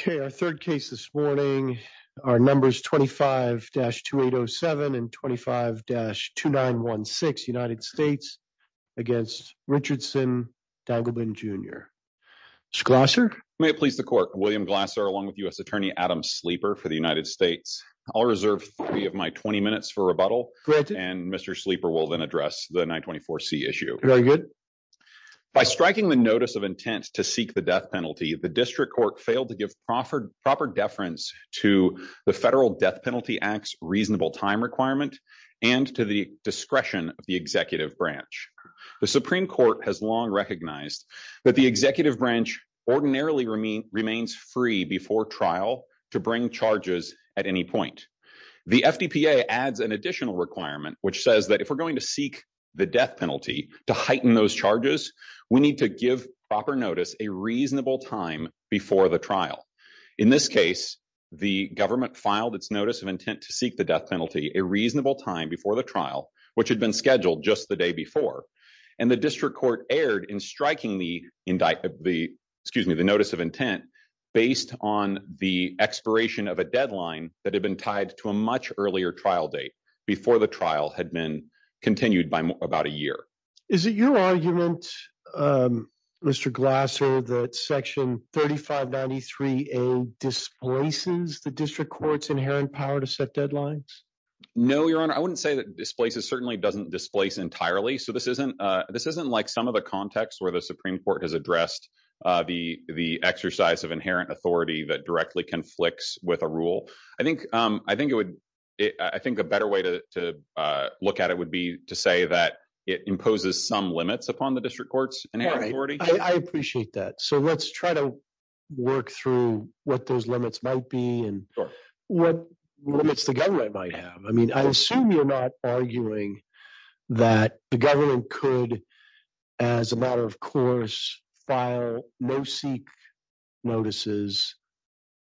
Okay, our third case this morning are numbers 25-2807 and 25-2916 United States against Richardson Dangleben Jr. Mr. Glasser? May it please the court. William Glasser along with U.S. Attorney Adam Sleeper for the United States. I'll reserve three of my 20 minutes for rebuttal and Mr. Sleeper will then address the 924C issue. Very good. By striking the notice of intent to seek the death penalty, the district court failed to give proper deference to the Federal Death Penalty Act's reasonable time requirement and to the discretion of the executive branch. The Supreme Court has long recognized that the executive branch ordinarily remains free before trial to bring charges at any point. The FDPA adds an additional requirement which says that if we're going to seek the death penalty to heighten those charges, we need to give proper notice a reasonable time before the trial. In this case, the government filed its notice of intent to seek the death penalty a reasonable time before the trial which had been scheduled just the day before and the district court erred in striking the indictment, excuse me, the notice of intent based on the expiration of a deadline that had been tied to a much earlier trial date before the trial had been continued by about a year. Is it your argument, Mr. Glasser, that section 3593A displaces the district court's inherent power to set deadlines? No, Your Honor. I wouldn't say that it displaces. It certainly doesn't displace entirely. So, this isn't like some of the contexts where the Supreme Court has addressed the exercise of inherent authority that directly conflicts with a rule. I think the better way to look at it would be to say that it imposes some limits upon the district court's inherent authority. I appreciate that. So, let's try to work through what those limits might be and what limits the government might have. I mean, I assume you're not arguing that the government could, as a matter of course, file no-seek notices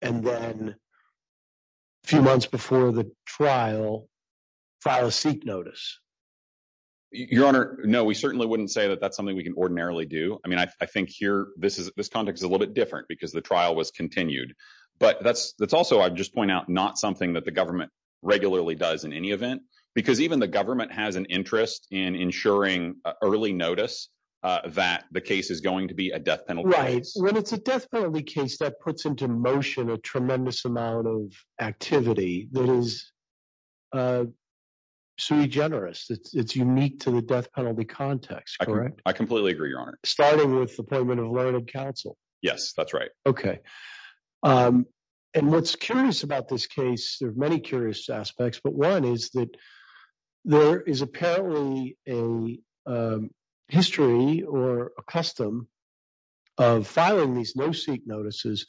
and then, a few months before the trial, file a seek notice. Your Honor, no, we certainly wouldn't say that that's something we can ordinarily do. I mean, I think here, this context is a little bit different because the trial was continued. But that's also, I'd just point out, not something that the government regularly does in any event, because even the government has an interest in ensuring early notice that the case is going to be a death penalty case. Right. When it's a death penalty case, that puts into motion a tremendous amount of activity that is sui generis. It's unique to the death penalty context, correct? I completely agree, Your Honor. Starting with the payment of learned counsel. Yes, that's right. Okay. And what's curious about this case, there are many curious aspects, but one is that there is apparently a history or a custom of filing these no-seek notices,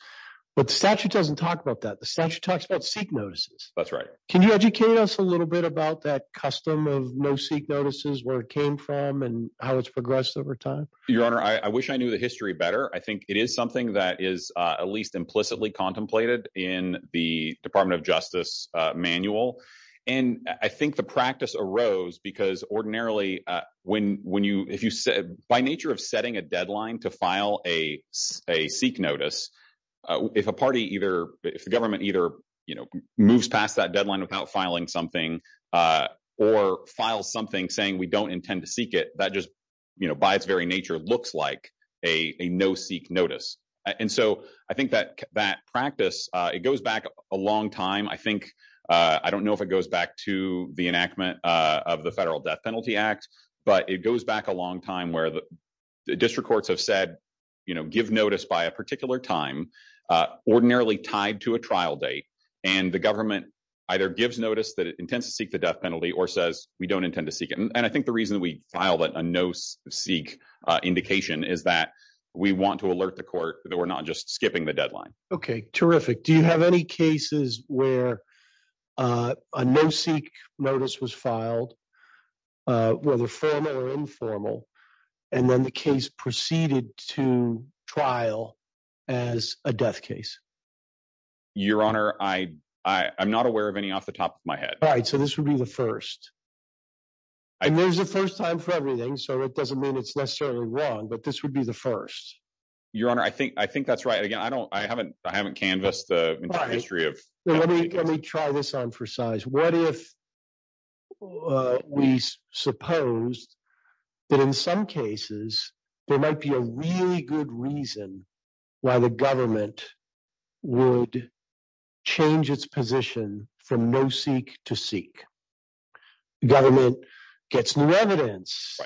but the statute doesn't talk about that. The statute talks about seek notices. That's right. Can you educate us a little bit about that custom of no-seek notices, where it came from, and how it's progressed over time? Your Honor, I wish I knew the history better. I think it is something that is at least implicitly contemplated in the Department of Justice manual. I think the practice arose because ordinarily, by nature of setting a deadline to file a seek notice, if a government either moves past that deadline without filing something or files something saying, we don't intend to seek it, by its very nature, looks like a no-seek notice. I think that practice, it goes back a long time. I don't know if it goes back to the enactment of the Federal Death Penalty Act, but it goes back a long time where the district courts have said, give notice by a particular time, ordinarily tied to a trial date, and the government either gives notice that it intends to seek the death penalty or says, we don't intend to seek it. I think the reason we filed a no-seek indication is that we want to alert the court that we're not just skipping the deadline. Okay, terrific. Do you have any cases where a no-seek notice was filed, whether formal or informal, and then the case proceeded to trial as a death case? Your Honor, I'm not aware of any off the top of my head. All right, so this would be the first. There's a first time for everything, so it doesn't mean it's necessarily wrong, but this would be the first. Your Honor, I think that's right. Again, I haven't canvassed the entire history. Let me try this on for size. What if we suppose that in some cases, there might be a really good reason why the government would change its position from no-seek to seek? The government gets new evidence.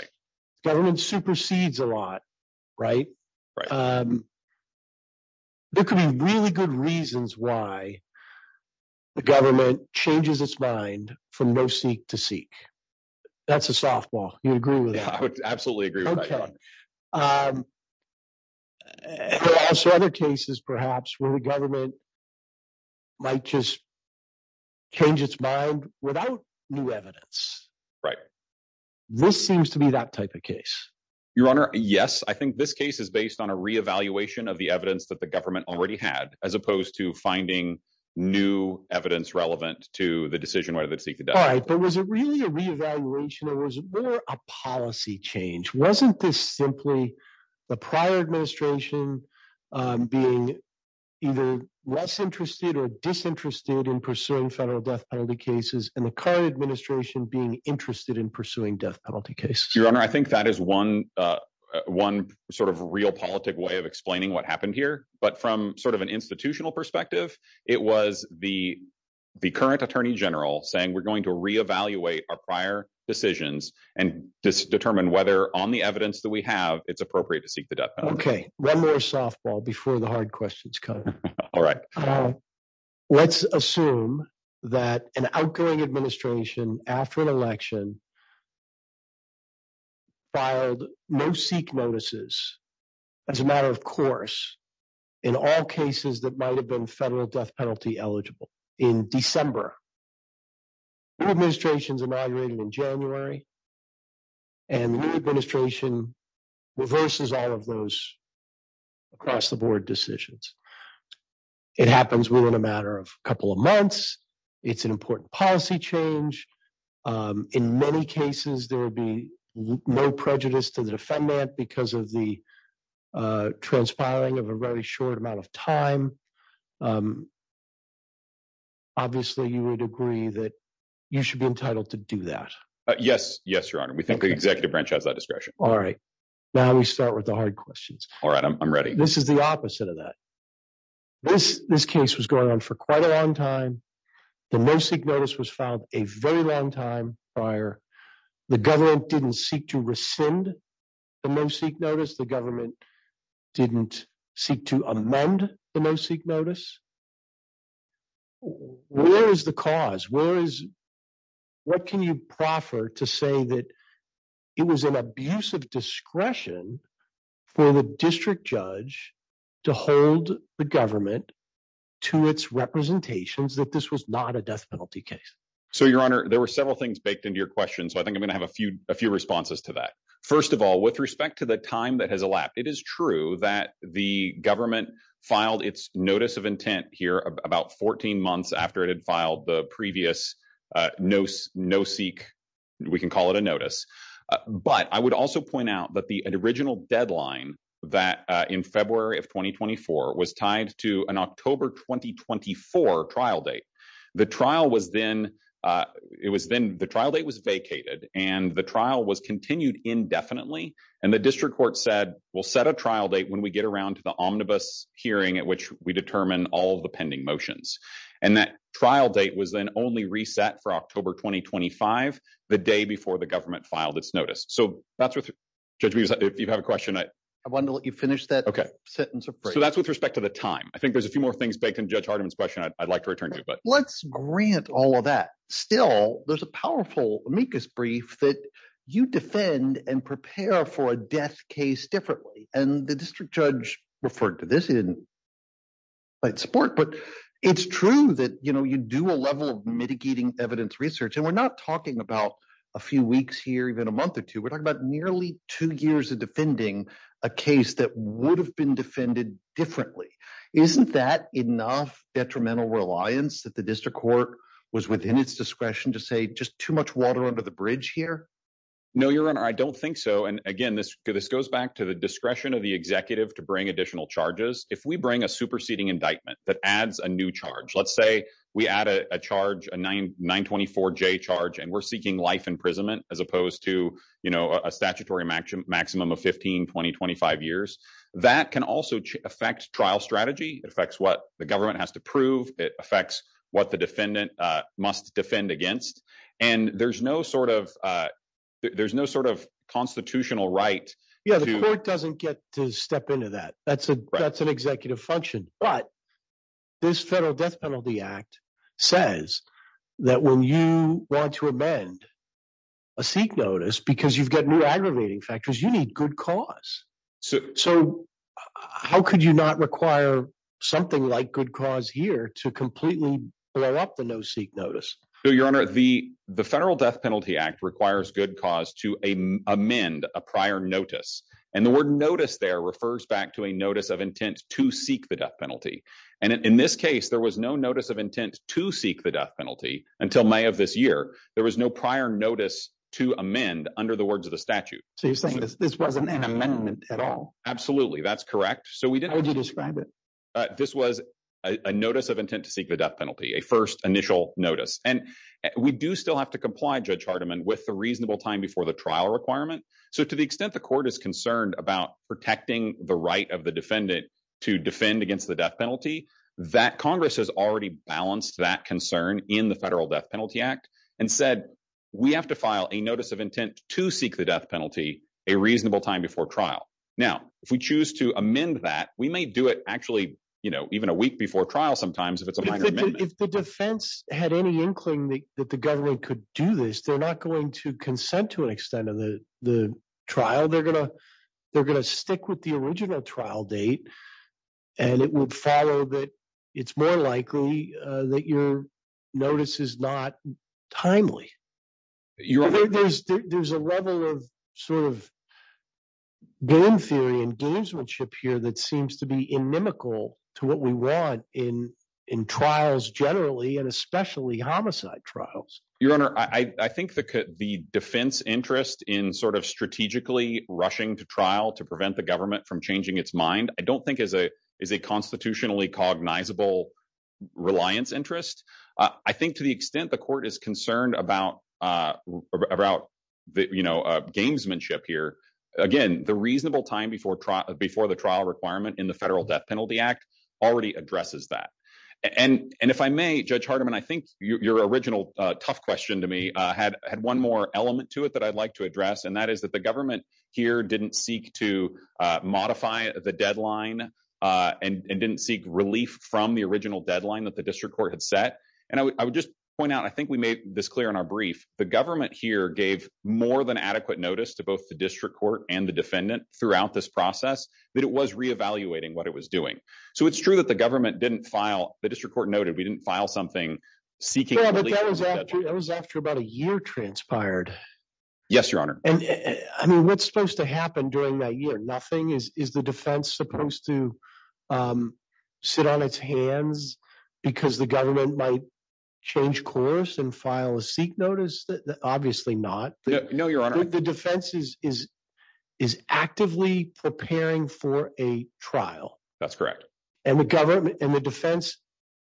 Government supersedes a lot, right? There could be really good reasons why the government changes its mind from no-seek to seek. That's a softball. You agree with that? Absolutely agree with that. Okay. Other cases, perhaps, where the government might just change its mind without new evidence. Right. This seems to be that type of case. Your Honor, yes. I think this case is based on a re-evaluation of the evidence that the government already had, as opposed to finding new evidence relevant to the decision whether to seek or not. Was it really a re-evaluation, or was it more a policy change? Wasn't this simply the prior administration being either less interested or disinterested in pursuing federal death penalty cases, and the current administration being interested in pursuing death penalty cases? Your Honor, I think that is one real politic way of explaining what happened here, but from an institutional perspective, it was the current Attorney General saying, we're going to re-evaluate our prior decisions and just determine whether, on the evidence that we have, it's appropriate to seek the death penalty. Okay. One more softball before the hard questions come. Let's assume that an outgoing administration, after an election, filed no-seek notices as a matter of course in all cases that might have been federal death penalty eligible in December. The new administration is inaugurated in January, and the new administration reverses all of those across-the-board decisions. It happens within a matter of a couple of months. It's an important policy change. In many cases, there would be no prejudice to the defendant because of the transpiring of a very short amount of time. Obviously, you would agree that you should be entitled to do that. Yes. Yes, Your Honor. We think the executive branch has that discretion. All right. Now, we start with the hard questions. All right. I'm ready. This is the opposite of that. This case was going on for quite a long time. The no-seek notice was filed a very long time prior. The government didn't seek to rescind the no-seek notice. The government didn't seek to amend the no-seek notice. Where is the cause? What can you proffer to say that it was an abuse of discretion for the district judge to hold the government to its representations that this was not a death penalty case? Your Honor, there were several things baked into your question. I think I'm going to give you some responses to that. First of all, with respect to the time that has elapsed, it is true that the government filed its notice of intent here about 14 months after it had filed the previous no-seek, we can call it a notice. I would also point out that the original deadline that in February of 2024 was tied to an October 2024 trial date. The trial date was vacated, and the trial was continued indefinitely. The district court said, we'll set a trial date when we get around to the omnibus hearing at which we determine all of the pending motions. That trial date was then only reset for October 2025, the day before the government filed its notice. Judge Meeks, you have a question? I wanted to let you finish that sentence of brief. That's with respect to the time. I think there's a few more things baked into Judge Hardiman's question I'd like to return to. Let's grant all of that. Still, there's a powerful brief that you defend and prepare for a death case differently. The district judge referred to this in light sport. It's true that you do a level of mitigating evidence research. We're not talking about a few weeks here, even a month or two. We're talking about nearly two years of defending a case that would have been defended differently. Isn't that enough detrimental reliance that the district court was within its discretion to say, just too much water under the bridge here? No, Your Honor. I don't think so. Again, this goes back to the discretion of the executive to bring additional charges. If we bring a superseding indictment that adds a new charge, let's say we add a 924J charge and we're seeking life imprisonment as opposed to a statutory maximum of 15, 20, 25 years, that can also affect trial strategy. It affects what the government has to prove. It affects what the defendant must defend against. There's no constitutional right. Yeah, the court doesn't get to step into that. That's an executive function, but this Federal Death Penalty Act says that when you want to amend a seat notice because you've got new aggravating factors, you need good cause. How could you not require something like good cause here to completely blow up the no seat notice? Your Honor, the Federal Death Penalty Act requires good cause to amend a prior notice. The word notice there refers back to a notice of intent to seek the death penalty. In this case, there was no notice of intent to seek the death penalty until May of this year. There was no prior notice to amend under the words of the statute. So you're saying this wasn't an amendment at all? Absolutely, that's correct. How would you describe it? This was a notice of intent to seek the death penalty, a first initial notice. And we do still have to comply, Judge Hardiman, with the reasonable time before the trial requirement. So to the extent the court is concerned about protecting the right of the defendant to defend against the death penalty, that Congress has already balanced that concern in the Federal Death Penalty Act and said we have to file a notice of intent to seek the death penalty a reasonable time before trial. Now, if we choose to amend that, we may do it actually, you know, even a week before trial sometimes. If the defense had any inkling that the government could do this, they're not going to consent to an extent of the trial. They're going to stick with the original trial date and it would follow that it's more likely that your notice is not timely. Your Honor, there's a level of sort of game theory and gamesmanship here that seems to be inimical to what we want in trials generally and especially homicide trials. Your Honor, I think the defense interest in sort of strategically rushing to trial to prevent the government from changing its mind, I don't think is a constitutionally cognizable reliance interest. I think to the extent the concerned about, you know, gamesmanship here, again, the reasonable time before the trial requirement in the Federal Death Penalty Act already addresses that. And if I may, Judge Hardiman, I think your original tough question to me had one more element to it that I'd like to address and that is that the government here didn't seek to modify the deadline and didn't seek relief from the original deadline that the district court had set. And I would just point out, I think we made this clear in our brief, the government here gave more than adequate notice to both the district court and the defendant throughout this process that it was reevaluating what it was doing. So it's true that the government didn't file, the district court noted, we didn't file something seeking relief. Yeah, but that was after about a year transpired. Yes, Your Honor. I mean, what's supposed to happen during that year? Nothing? Is the defense supposed to sit on its hands because the government might change course and file a seek notice? Obviously not. No, Your Honor. The defense is actively preparing for a trial. That's correct. And the government and the defense,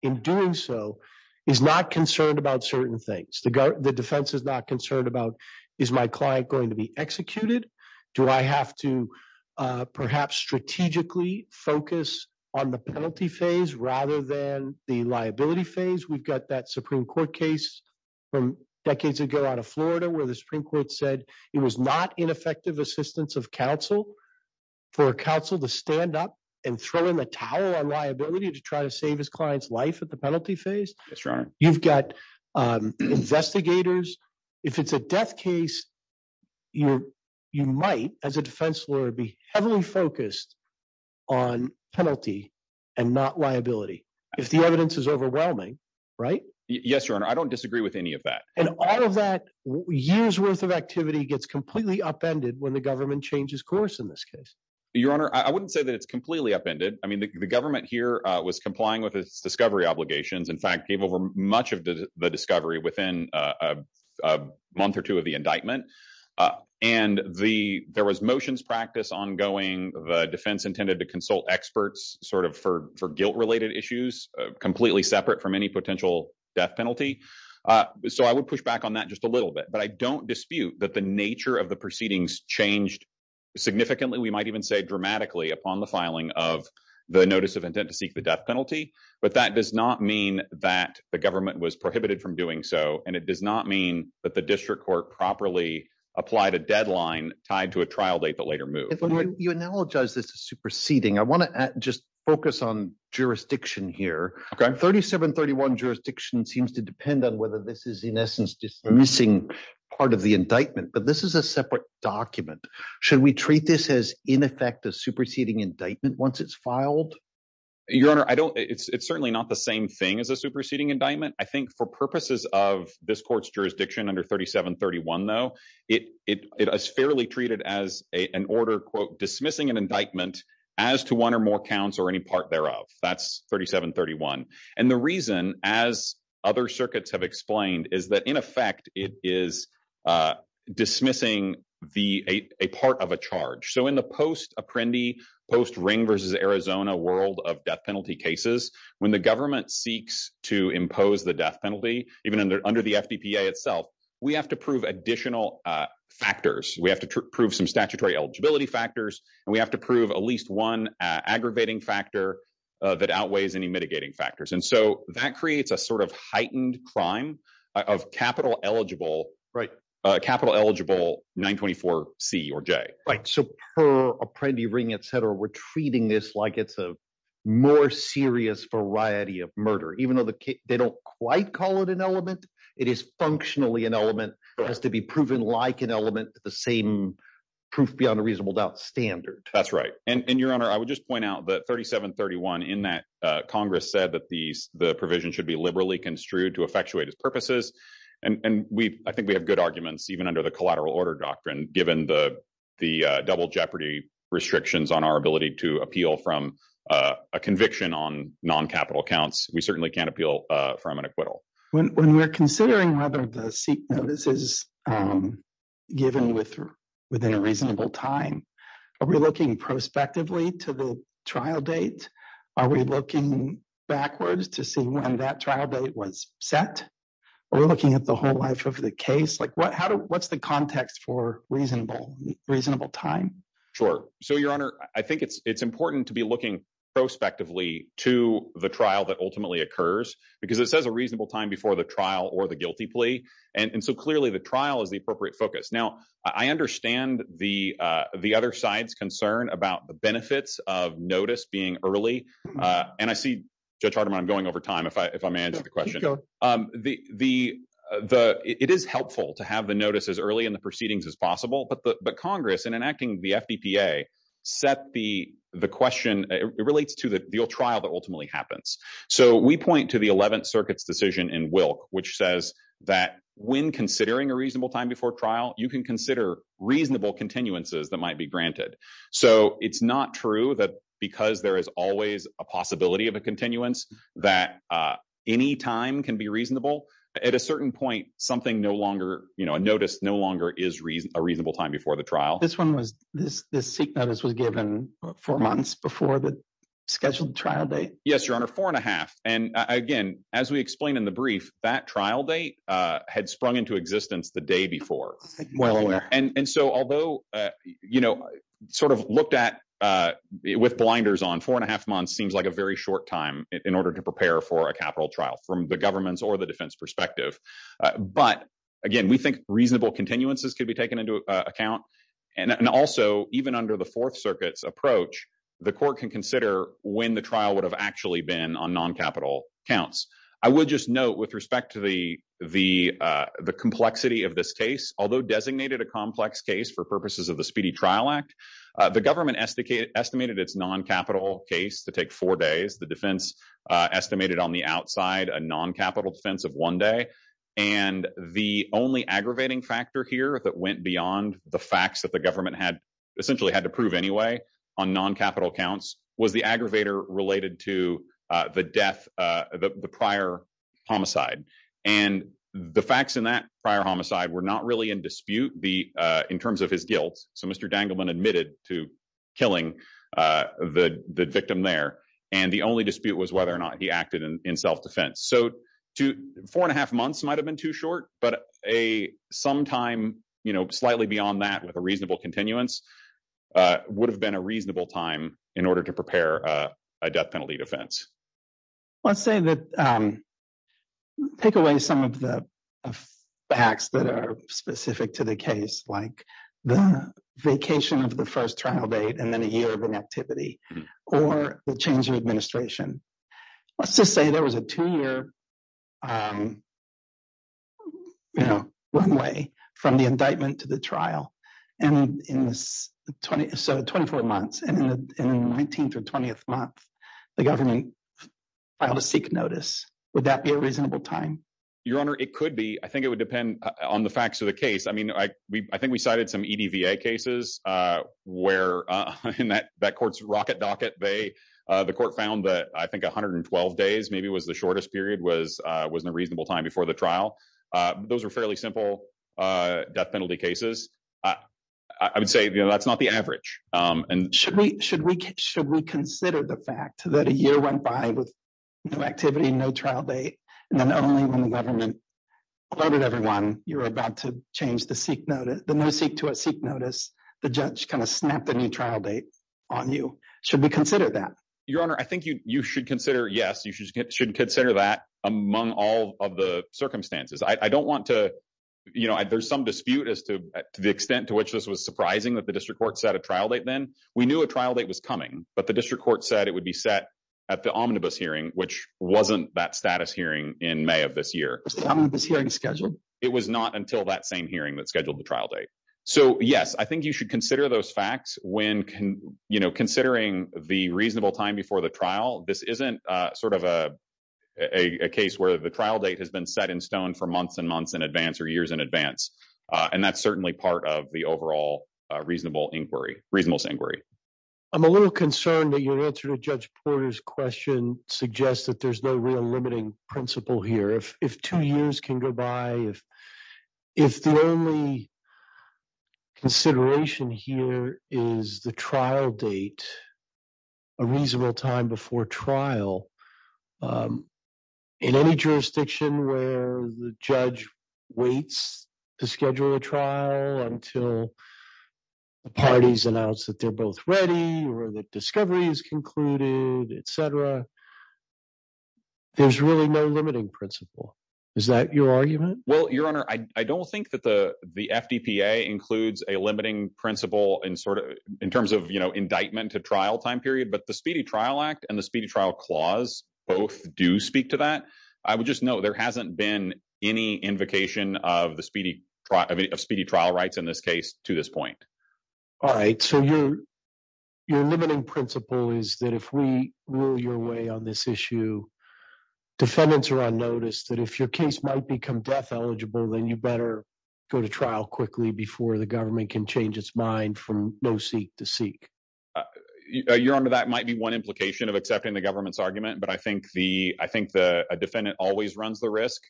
in doing so, is not concerned about certain things. The defense is not concerned about, is my client going to be executed? Do I have to perhaps strategically focus on the penalty phase rather than the liability phase? We've got that Supreme Court case from decades ago out of Florida where the Supreme Court said it was not ineffective assistance of counsel for counsel to stand up and throw in the towel on liability to try to save his client's life at the penalty phase. That's right. You've got investigators. If it's a death case, you might, as a defense lawyer, be heavily focused on penalty and not liability. If the evidence is overwhelming, right? Yes, Your Honor. I don't disagree with any of that. And all of that year's worth of activity gets completely upended when the government changes course in this case. Your Honor, I wouldn't say that it's completely upended. I mean, the government here was complying with its discovery obligations. In fact, it came over much of the discovery within a month or two of the indictment. And there was motions practice ongoing. The defense intended to consult experts sort of for guilt-related issues, completely separate from any potential death penalty. So I would push back on that just a little bit. But I don't dispute that the nature of the proceedings changed significantly, we might even say dramatically, upon the filing of the notice of intent to seek the death penalty. But that does not mean that the government was prohibited from doing so. And it does not mean that the district court properly applied a deadline tied to a trial date that later moved. You analogize this as superseding. I want to just focus on jurisdiction here. 3731 jurisdiction seems to depend on whether this is, in essence, dismissing part of the indictment. But this is a separate document. Should we treat this as, in effect, a superseding indictment once it's filed? Your Honor, it's certainly not the same thing as a superseding indictment. I think for purposes of this court's jurisdiction under 3731, though, it is fairly treated as an order, quote, dismissing an indictment as to one or more counts or any part thereof. That's 3731. And the reason, as other circuits have explained, is that, in effect, it is dismissing a part of a charge. So in the post-Apprendi, post-Ring v. Arizona world of death penalty cases, when the government seeks to impose the death penalty, even under the FDPA itself, we have to prove additional factors. We have to prove some statutory eligibility factors, and we have to prove at least one aggravating factor that outweighs any mitigating factors. And so that creates a sort of heightened crime of capital eligible 924C or J. So per Apprendi, Ring, et cetera, we're treating this like it's a more serious variety of murder. Even though they don't quite call it an element, it is functionally an element. It has to be proven like an element, the same proof beyond a reasonable doubt standard. That's right. And, Your Honor, I would just point out that 3731 in that Congress said that the provision should be liberally construed to effectuate its purposes. And I think we have good arguments, even under the collateral order doctrine, given the double jeopardy restrictions on our ability to appeal from a conviction on non-capital accounts. We certainly can't appeal from an acquittal. When we're considering whether the seek notice is given within a reasonable time, are we looking prospectively to the trial date? Are we looking backwards to see when that trial was set? Are we looking at the whole life of the case? What's the context for reasonable time? Sure. So, Your Honor, I think it's important to be looking prospectively to the trial that ultimately occurs because it says a reasonable time before the trial or the guilty plea. And so clearly the trial is the appropriate focus. Now, I understand the other side's concern about the benefits of notice being early. And I see Judge Hardiman, I'm going over time if I may answer the question. It is helpful to have the notice as early in the proceedings as possible, but Congress, in enacting the FDPA, set the question, it relates to the trial that ultimately happens. So we point to the 11th Circuit's decision in Wilk, which says that when considering a reasonable time before trial, you can consider reasonable continuances that might be granted. So it's not true that because there is always a possibility of a continuance that any time can be reasonable. At a certain point, a notice no longer is a reasonable time before the trial. This seek notice was given four months before the scheduled trial date? Yes, Your Honor, four and a half. And again, as we explained in the brief, that trial date had sprung into existence the day before. And so although, you know, sort of looked at with blinders on four and a half months seems like a very short time in order to prepare for a capital trial from the government's or the defense perspective. But again, we think reasonable continuances could be taken into account. And also, even under the Fourth Circuit's approach, the court can consider when the trial would have actually been on non-capital counts. I would just note with respect to the complexity of this case, although designated a complex case for purposes of the Speedy Trial Act, the government estimated its non-capital case to take four days. The defense estimated on the outside a non-capital sense of one day. And the only aggravating factor here that went beyond the facts that the government had essentially had to prove anyway on non-capital counts was the aggravator related to the death, the prior homicide. And the facts in that prior homicide were not really in dispute in terms of his guilt. So Mr. Dangleman admitted to killing the victim there. And the only dispute was whether or not he acted in self-defense. So four and a half months might have been too short, but a sometime, you know, slightly beyond that with a reasonable continuance would have been a reasonable time in order to prepare a death penalty defense. Let's say that, take away some of the facts that are specific to the case, like the vacation of the first trial date and then a year of inactivity or the change in administration. Let's just say there was a two-year, you know, runway from the indictment to the trial. And in 24 months, in the 19th or 20th month, the government filed a seek notice. Would that be a reasonable time? Your Honor, it could be. I think it would depend on the facts of the case. I mean, I think we cited some EDVA cases where that court's rocket dock at bay, the court found that I think 112 days maybe was the shortest period was in a reasonable time before the trial. Those are fairly simple death penalty cases. I would say, you know, that's not the average. And should we consider the fact that a year went by with no activity, no trial date, and then only when the government alerted everyone you were about to change the seek notice, the no seek to a seek notice, the judge kind of snapped a new trial date on you. Should we consider that? Your Honor, I think you should consider, yes, you should consider that among all of the circumstances. I don't want to, you know, there's some dispute as to the extent which this was surprising that the district court set a trial date then. We knew a trial date was coming, but the district court said it would be set at the omnibus hearing, which wasn't that status hearing in May of this year. It was not until that same hearing that scheduled the trial date. So yes, I think you should consider those facts when, you know, considering the reasonable time before the trial. This isn't sort of a case where the trial date has been set in stone for months and months in advance or years in advance. And that's certainly part of the overall reasonable inquiry. I'm a little concerned that your answer to Judge Porter's question suggests that there's no real limiting principle here. If two years can go by, if the only consideration here is the trial date, a reasonable time before trial, in any jurisdiction where the judge waits to schedule a trial until the parties announce that they're both ready or that discovery is concluded, et cetera, there's really no limiting principle. Is that your argument? Well, Your Honor, I don't think that the FDPA includes a limiting principle in terms of, you know, indictment to trial time period, but the Speedy Trial Act and the Speedy Trial Clause both do speak to that. I would just note there hasn't been any invocation of the speedy trial rights in this case to this point. All right. So your limiting principle is that if we rule your way on this issue, defendants are unnoticed, that if your case might become death eligible, then you better go to trial quickly before the government can change its mind from no-seek to seek. Your Honor, that might be one implication of accepting the government's argument, I think a defendant always runs the risk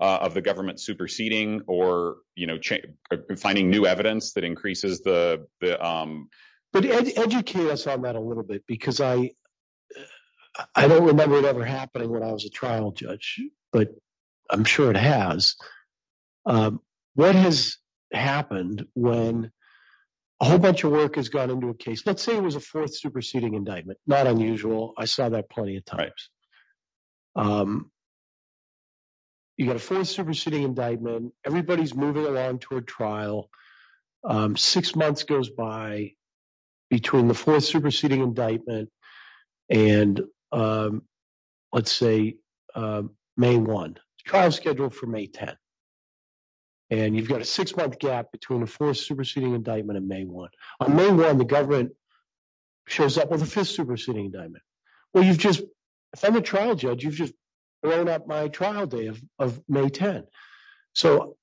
of the government superseding or, you know, finding new evidence that increases the... But educate us on that a little bit, because I don't remember it ever happening when I was a trial judge, but I'm sure it has. What has happened when a whole bunch of work has gone into a case, let's say it was a fourth superseding indictment, not unusual, I saw that plenty of times. You got a fourth superseding indictment, everybody's moving around to a trial, six months goes by between the fourth superseding indictment and, let's say, May 1. Trial's scheduled for May 10. And you've got a six-month gap between the fourth superseding indictment and May 1. On May 1, the government shows up with a fifth superseding indictment. Well, you've just... If I'm a trial judge, you've just blown up my trial day of May 10. So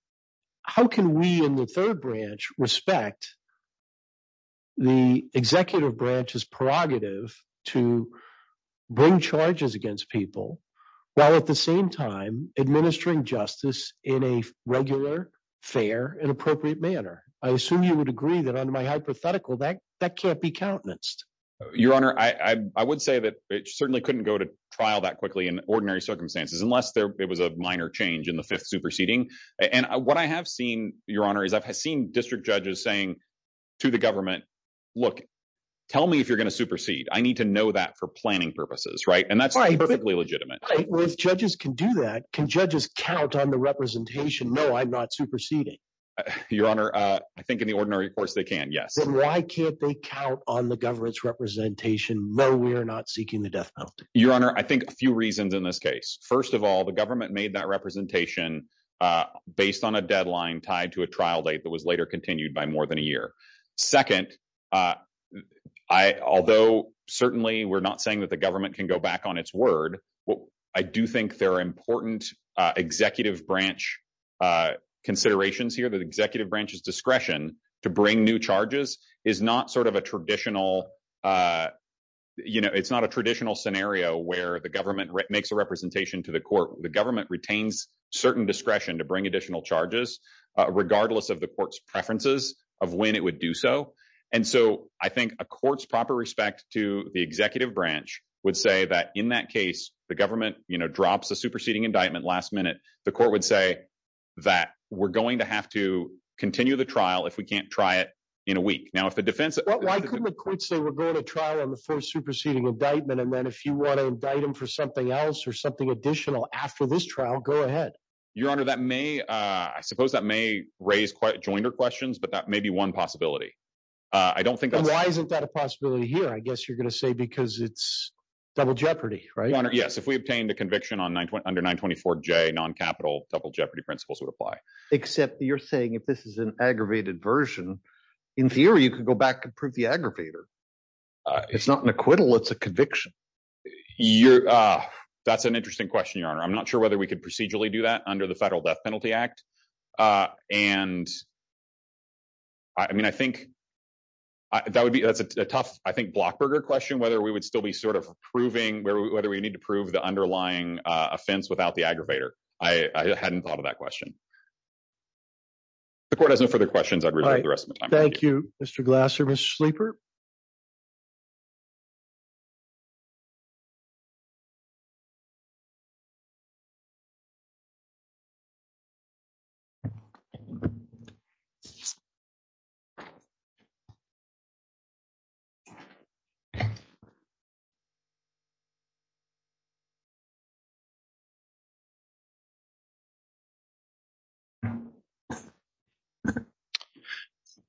how can we in the third branch respect the executive branch's prerogative to bring charges against people while at the same time administering justice in a regular, fair, and appropriate manner? I assume you would agree that under my hypothetical, that can't be countenanced. Your Honor, I would say that it certainly couldn't go to trial that quickly in ordinary circumstances, unless there was a minor change in the fifth superseding. And what I have seen, Your Honor, is I've seen district judges saying to the government, look, tell me if you're going to supersede. I need to know that for planning purposes, right? And that's perfectly legitimate. Well, if judges can do that, can judges count on the representation, no, I'm not superseding. Your Honor, I think in the ordinary course they can, yes. But why can't they count on the government's representation, no, we're not seeking the death penalty? Your Honor, I think a few reasons in this case. First of all, the government made that representation based on a deadline tied to a trial date that was later continued by more than a year. Second, although certainly we're not saying that the government can go back on its word, I do think there are important executive branch considerations here. The executive branch's discretion to bring new charges is not a traditional scenario where the government makes a representation to the court. The government retains certain discretion to bring additional charges, regardless of the court's preferences of when it would do so. And so I think a court's proper respect to the executive branch would say that in that case, the government drops the superseding indictment last minute. The court would say that we're going to have to continue the trial if we can't try it in a week. Now, if the defense- Why couldn't the court say we're going to trial on the first superseding indictment, and then if you want to indict him for something else or something additional after this trial, go ahead? Your Honor, that may, I suppose that may raise quite joinder questions, but that may be one possibility. I don't think- Why isn't that a possibility here? I guess you're going to say because it's double jeopardy, right? Your Honor, yes. If we obtain the conviction under 924J, non-capital double jeopardy principles would apply. Except you're saying if this is an aggravated version, in theory, you can go back and prove the aggravator. It's not an acquittal, it's a conviction. That's an interesting question, Your Honor. I'm not sure whether we could procedurally do that under the Federal Death Penalty Act. That would be a tough, I think, Blockberger question, whether we would still be sort of proving, whether we need to prove the underlying offense without the aggravator. I hadn't thought of that question. If the court has no further questions, I'd refer you to the rest of the time. Thank you, Mr. Glasser. Mr. Sleeper?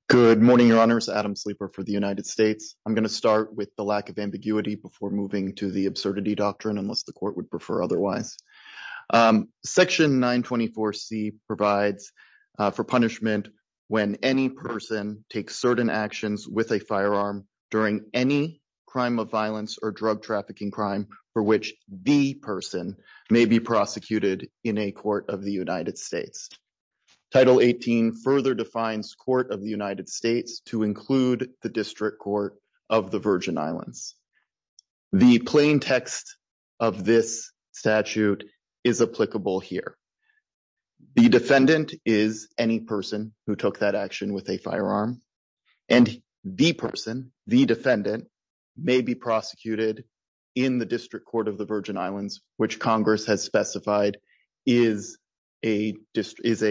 Good morning, Your Honors. Adam Sleeper for the United States. I'm going to start with the lack of ambiguity before moving to the absurdity doctrine, unless the court would prefer otherwise. Section 924C provides for punishment when any person takes certain actions with a firearm during any crime of violence or drug trafficking crime for which the person may be prosecuted in a court of the United States. Title 18 further defines court of the United States to include the District Court of the Virgin Islands. The plain text of this statute is applicable here. The defendant is any person who took that action with a firearm, and the person, the defendant, may be prosecuted in the District Court of the Virgin Islands, which Congress has specified is a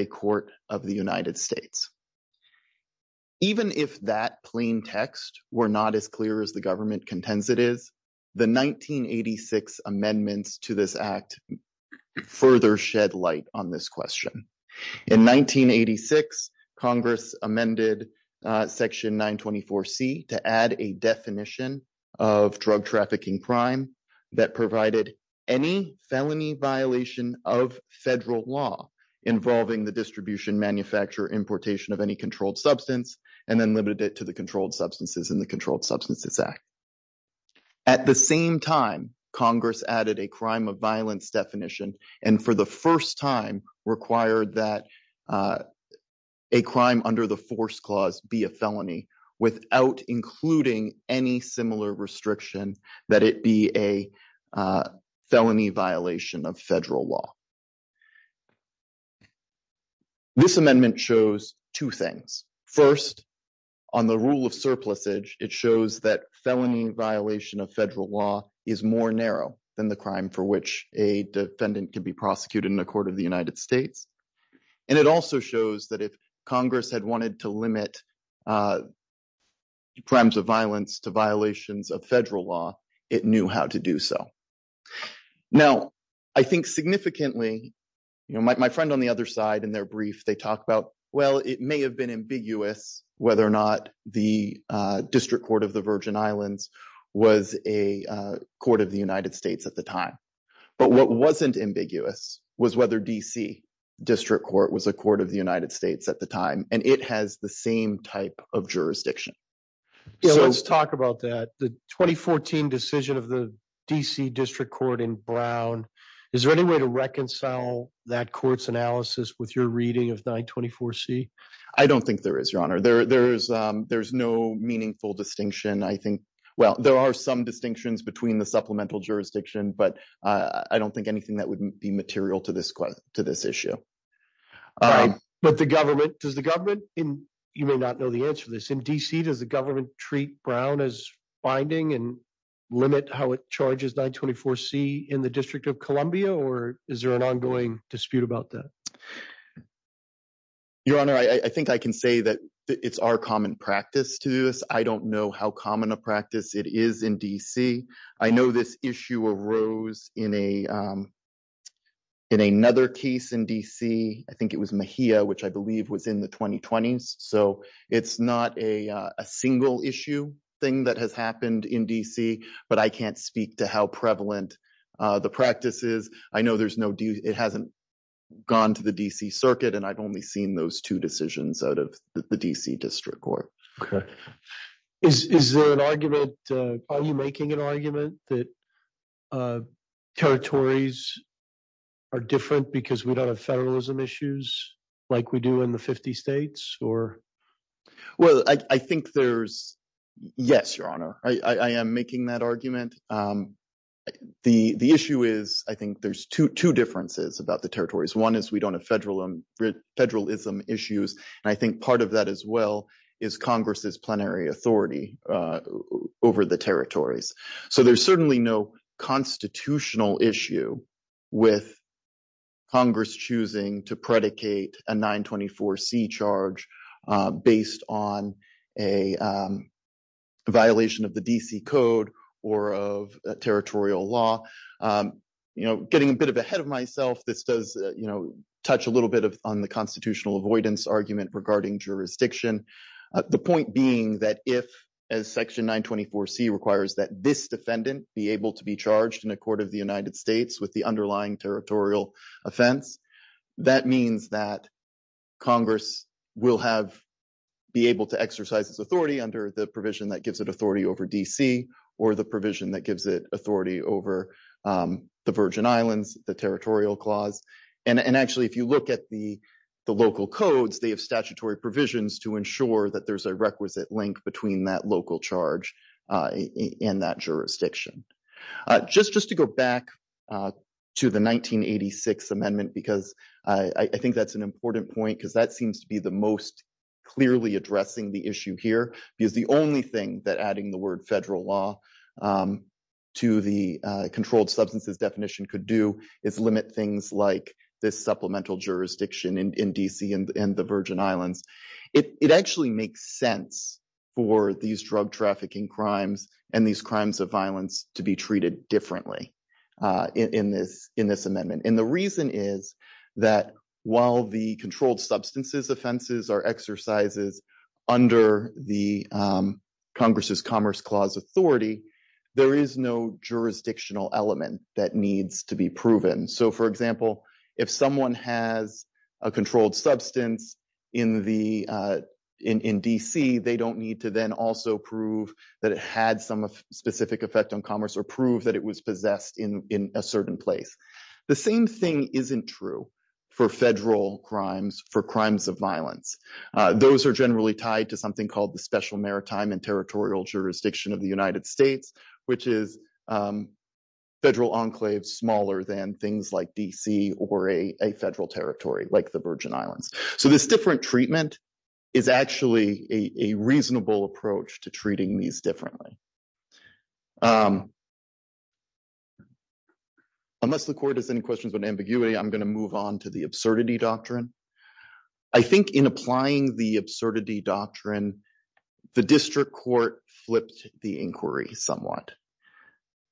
court of the United States. Even if that plain text were not as clear as the government contends it is, the 1986 amendments to this act further shed light on this question. In 1986, Congress amended Section 924C to add a definition of drug trafficking crime that provided any felony violation of federal law involving the distribution, manufacture, importation of any controlled substance, and then limited it to the controlled substances in the Controlled Substances Act. At the same time, Congress added a crime of violence definition and for the first time required that a crime under the force clause be a felony without including any similar restriction that it be a felony violation of federal law. This amendment shows two things. First, on the rule of surplusage, it shows that felony violation of federal law is more narrow than the crime for which a defendant can be prosecuted in a court of the United States, and it also shows that if Congress had wanted to limit crimes of violence to violations of federal law, it knew how to do so. Now, I think significantly, you know, my friend on the other side in their brief, they talk about, well, it may have been ambiguous whether or not the District Court of the Virgin Islands was a court of the United States at the time, but what wasn't ambiguous was whether D.C. District Court was a court of the United States at the time, and it has the same type of jurisdiction. Yeah, let's talk about that. The 2014 decision of the D.C. District Court in Brown, is there any way to reconcile that court's analysis with your reading of 924C? I don't think there is, Your Honor. There's no meaningful distinction. I think, well, there are some distinctions between the supplemental jurisdiction, but I don't think anything that would be material to this issue. But the government, you may not know the answer to this. In D.C., does the government treat Brown as binding and limit how it charges 924C in the District of Columbia, or is there an ongoing dispute about that? Your Honor, I think I can say that it's our common practice to do this. I don't know how common a practice it is in D.C. I know this issue arose in another case in D.C. I think it was Mejia, which I believe was in the 2020s. So it's not a single issue thing that has happened in D.C., but I can't speak to how prevalent the practice is. I know it hasn't gone to the D.C. Circuit, and I've only seen those two decisions out of the D.C. District Court. Okay. Are you making an argument that territories are different because we don't have federalism issues like we do in the 50 states? Yes, Your Honor. I am making that argument. The issue is, I think there's two differences about the territories. One is we don't have federalism issues, and I think part of that as well is Congress's plenary authority over the territories. So there's certainly no constitutional issue with Congress choosing to predicate a 924C charge based on a violation of the D.C. Code or of territorial law. You know, getting a bit ahead of myself, this does touch a little bit on the constitutional avoidance argument regarding jurisdiction. The point being that if, as Section 924C requires that this defendant be able to be charged in a court of the United States with the underlying territorial offense, that means that Congress will be able to exercise its authority under the provision that gives it authority over D.C. or the provision that gives it authority over the Virgin Islands, the territorial clause. And actually, if you look at the local codes, they have statutory provisions to ensure that there's a requisite link between that local charge in that jurisdiction. Just to go back to the 1986 Amendment, because I think that's an important point, because that seems to be the most clearly addressing the issue here, because the only thing that adding the word federal law to the controlled substances definition could do is limit things like this supplemental jurisdiction in D.C. and the Virgin Islands. It actually makes sense for these drug trafficking crimes and these crimes of violence to be treated differently in this amendment. And the reason is that while the controlled substances offenses are exercises under the Congress's Commerce Clause authority, there is no jurisdictional element that needs to be proven. So, for example, if someone has a controlled substance in D.C., they don't need to then also prove that it had some specific effect on commerce or prove that it was possessed in a certain place. The same thing isn't true for federal crimes, for crimes of violence. Those are generally tied to something called the Special Maritime and Territorial Jurisdiction of the United States, which is federal enclaves smaller than things like D.C. or a federal territory like the Virgin Islands. So, this different treatment is actually a reasonable approach to treating these differently. Unless the court has any questions on ambiguity, I'm going to move on to the absurdity doctrine. I think in applying the absurdity doctrine, the district court flipped the inquiry somewhat.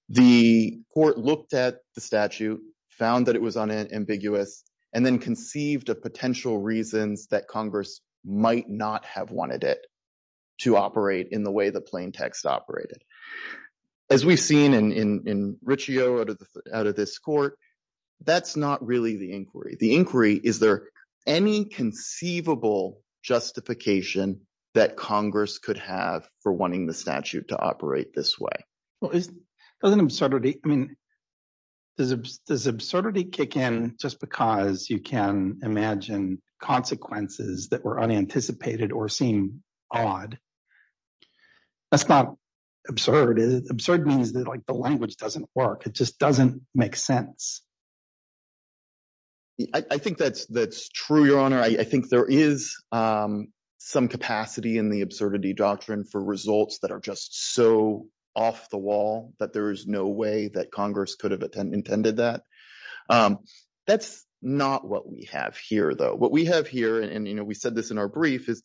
The court looked at the statute, found that it was unambiguous, and then conceived a potential reason that Congress might not have wanted it to operate in the way the plaintext operated. As we've seen in Riccio out of this court, that's not really the inquiry. The inquiry, is there any conceivable justification that Congress could have for wanting the statute to operate this way? Does absurdity kick in just because you can imagine consequences that were unanticipated or seem odd? That's not absurd. Absurd means that the language doesn't work. It just doesn't make sense. I think that's true, Your Honor. I think there is some capacity in the absurdity doctrine for results that are just so off the wall that there is no way that Congress could have intended that. That's not what we have here, though. What we have here, and we said this in our brief, is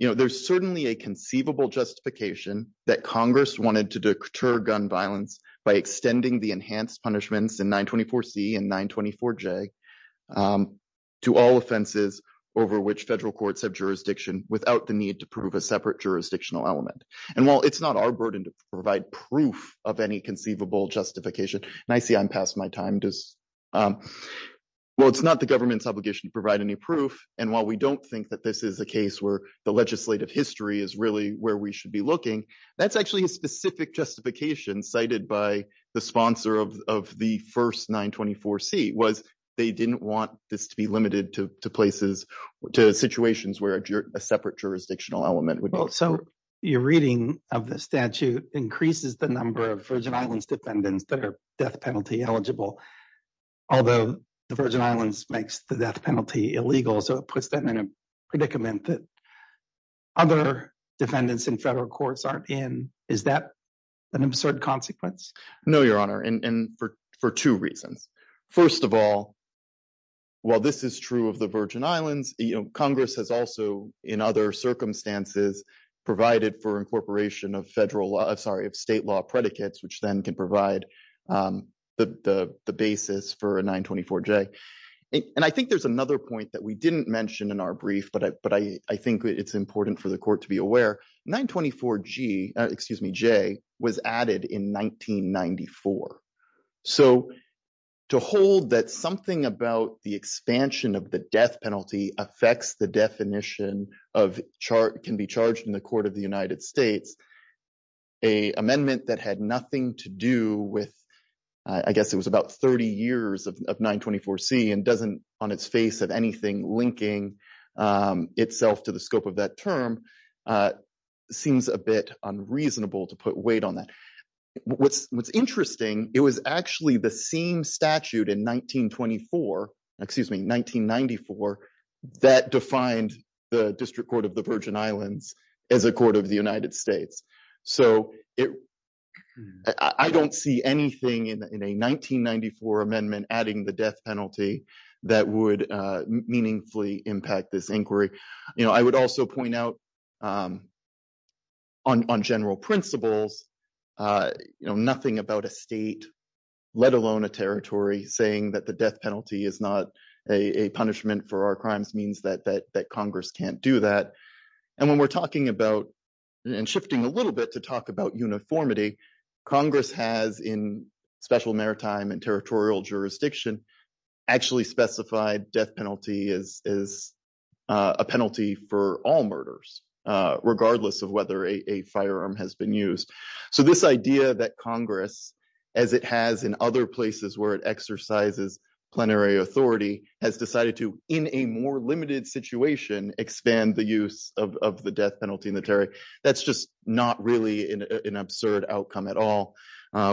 there's certainly a conceivable justification that Congress wanted to deter gun violence by extending the enhanced punishments in 924C and 924J to all offenses over which federal courts have jurisdiction without the need to prove a separate jurisdictional element. While it's not our burden to provide proof of any conceivable justification, and I see I'm past my time, but while it's not the government's obligation to provide any proof, and while we don't think that this is a case where the legislative history is really where we should be looking, that's actually a specific justification cited by the sponsor of the first 924C, was they didn't want this to be limited to situations where a separate jurisdictional element would work. So your reading of the statute increases the number of Virgin Islands defendants that are death penalty eligible, although the Virgin Islands makes the death penalty illegal, so it puts them in a predicament that other defendants in federal courts aren't in. Is that an absurd consequence? No, Your Honor, and for two reasons. First of all, while this is true of the Virgin Islands, Congress has also, in other circumstances, provided for incorporation of federal, sorry, of state law predicates, which then can provide the basis for a 924J. And I think there's another point that we didn't mention in our brief, but I think it's important for the Court to be aware, 924G, excuse me, J, was added in 1994. So to hold that something about the expansion of the death penalty affects the definition of can be charged in the Court of the United States, a amendment that had nothing to do with, I guess it was about 30 years of 924C, and doesn't, on its face of anything, linking itself to the scope of that term, seems a bit unreasonable to put weight on that. What's interesting, it was actually the same statute in 1924, excuse me, 1994, that defined the District Court of the Virgin Islands as a United States. So I don't see anything in a 1994 amendment adding the death penalty that would meaningfully impact this inquiry. I would also point out, on general principles, nothing about a state, let alone a territory, saying that the death penalty is not a punishment for our crimes means that Congress can't do that. And when we're talking about, and shifting a little bit to talk about uniformity, Congress has, in special maritime and territorial jurisdiction, actually specified death penalty as a penalty for all murders, regardless of whether a firearm has been used. So this idea that Congress, as it has in other places where it exercises plenary authority, has decided to, in a more limited situation, expand the use of the death penalty in the territory, that's just not really an absurd outcome at all.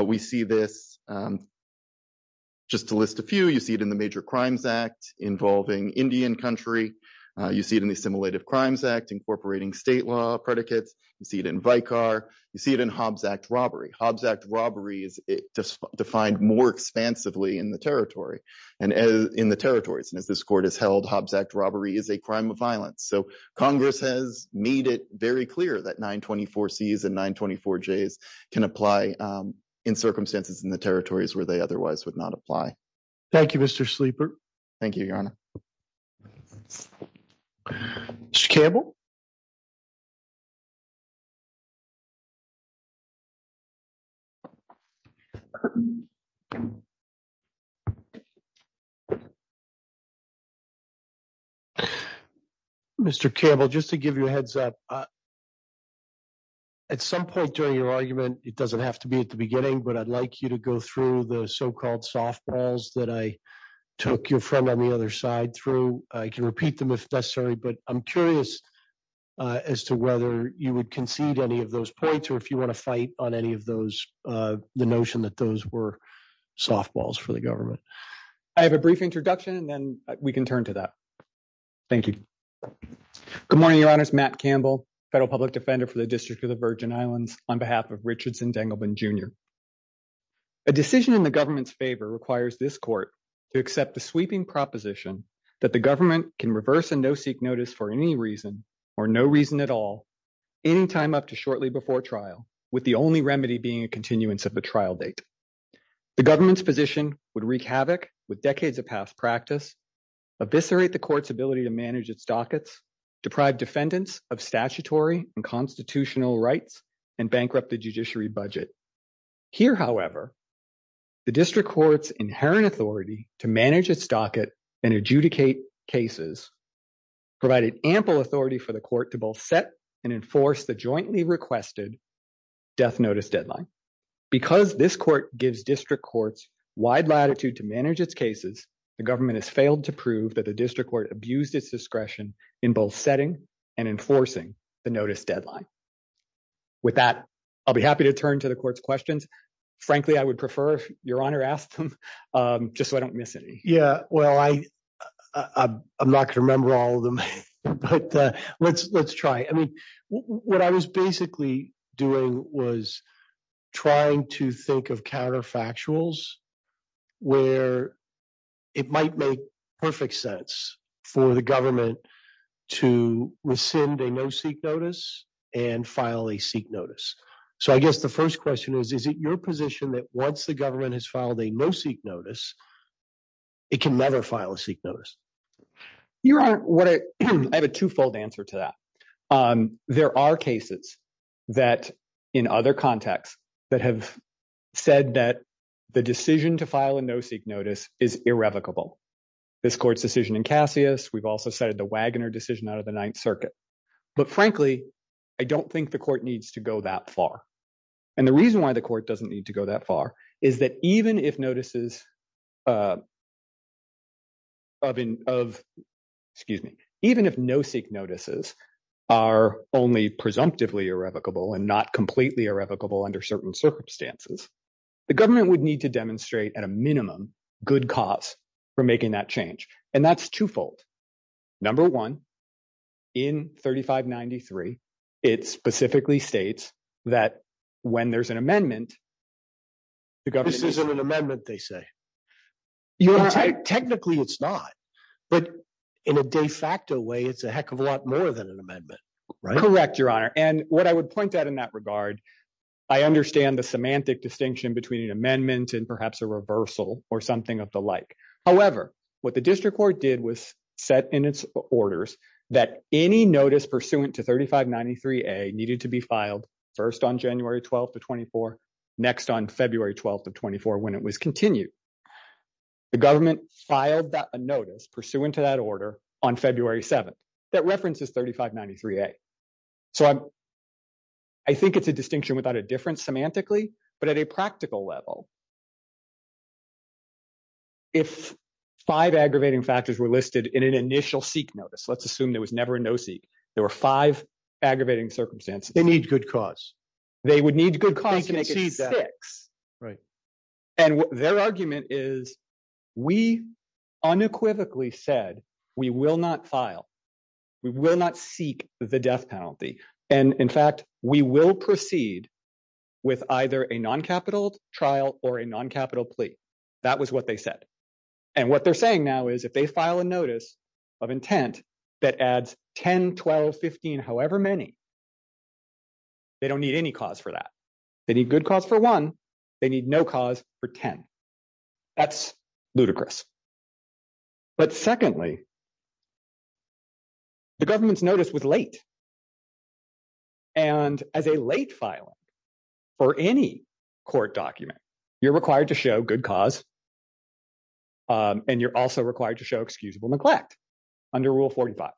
We see this, just to list a few, you see it in the Major Crimes Act involving Indian country, you see it in the Assimilative Crimes Act incorporating state law predicates, you see it in Vicar, you see it in Hobbs Act robbery. Hobbs Act robbery is defined more expansively in the territories. And if this court has held Hobbs Act robbery as a crime of violence. So Congress has made it very clear that 924Cs and 924Js can apply in circumstances in the territories where they otherwise would not apply. Thank you, Mr. Sleeper. Thank you, Your Honor. Mr. Campbell, just to give you a heads up, at some point during your argument, it doesn't have to be at the beginning, but I'd like you to go through the so-called softballs that I took your friend on the other side through. I can repeat them if necessary, but I'm curious as to whether you would concede any of those points or if you want to fight on any of those, the notion that those were softballs for the government. I have a brief introduction and then we can turn to that. Thank you. Good morning, Your Honor. It's Matt Campbell, Federal Public Defender for the District of the Virgin Islands, on behalf of Richardson Dengelman Jr. A decision in the government's favor requires this court to accept the sweeping proposition that the government can reverse a no-seek notice for any reason or no reason at all, anytime up to shortly before trial, with the only remedy being a continuance of the trial date. The government's position would wreak havoc with decades of past practice, eviscerate the court's ability to manage its dockets, deprive defendants of statutory and constitutional rights, and bankrupt the judiciary budget. Here, however, the district court's inherent authority to manage its docket and adjudicate cases, provided ample authority for the court to both set and enforce the jointly requested death notice deadline. Because this court gives district courts wide latitude to manage its cases, the government has failed to prove that the district court abused its discretion in both setting and enforcing the notice deadline. With that, I'll be happy to turn to the court's questions. Frankly, I would prefer if Your Honor asked them, just so I don't miss any. Yeah, well, I'm not going to remember all of them, but let's try. I mean, what I was basically doing was trying to think of counterfactuals where it might make perfect sense for the government to rescind a no-seek notice and file a seek notice. So I guess the first question is, is it your position that once the government has filed a no-seek notice, it can never file a seek notice? Your Honor, I have a twofold answer to that. There are cases that, in other contexts, that have said that the decision to file a no-seek notice is irrevocable. This court's decision in Cassius. We've also cited the Wagoner decision out of the Ninth Circuit. But frankly, I don't think the court needs to go that far. And the reason why the court doesn't need to go that far is that even if no-seek notices are only presumptively irrevocable and not completely irrevocable under certain circumstances, the government would need to demonstrate, at a minimum, good cause for making that change. And that's twofold. Number one, in 3593, it specifically states that when there's an amendment, the government... This isn't an amendment, they say. Technically, it's not. But in a de facto way, it's a heck of a lot more than an amendment. Correct, Your Honor. And what I would point out in that regard, I understand the semantic distinction between an amendment and perhaps a reversal or something of the like. However, what the district court did was set in its orders that any notice pursuant to 3593A needed to be filed first on January 12th of 24, next on February 12th of 24, when it was continued. The government filed a notice pursuant to that order on February 7th that references 3593A. So I think it's a distinction without a difference semantically, but at a practical level, if five aggravating factors were listed in an initial seek notice, let's assume there was never a no-seek, there were five aggravating circumstances, it needs good cause. They would need good cause to make it six. And their argument is, we unequivocally said, we will not file, we will not seek the death penalty. And in fact, we will proceed with either a non-capital trial or a non-capital plea. That was what they said. And what they're saying now is if they file a notice of intent that adds 10, 12, 15, however many, they don't need any cause for that. They need good cause for one, they need no cause for 10. That's ludicrous. But secondly, the government's notice was late. And as a late filing for any court document, you're required to show good cause, and you're also required to show excusable neglect under Rule 45.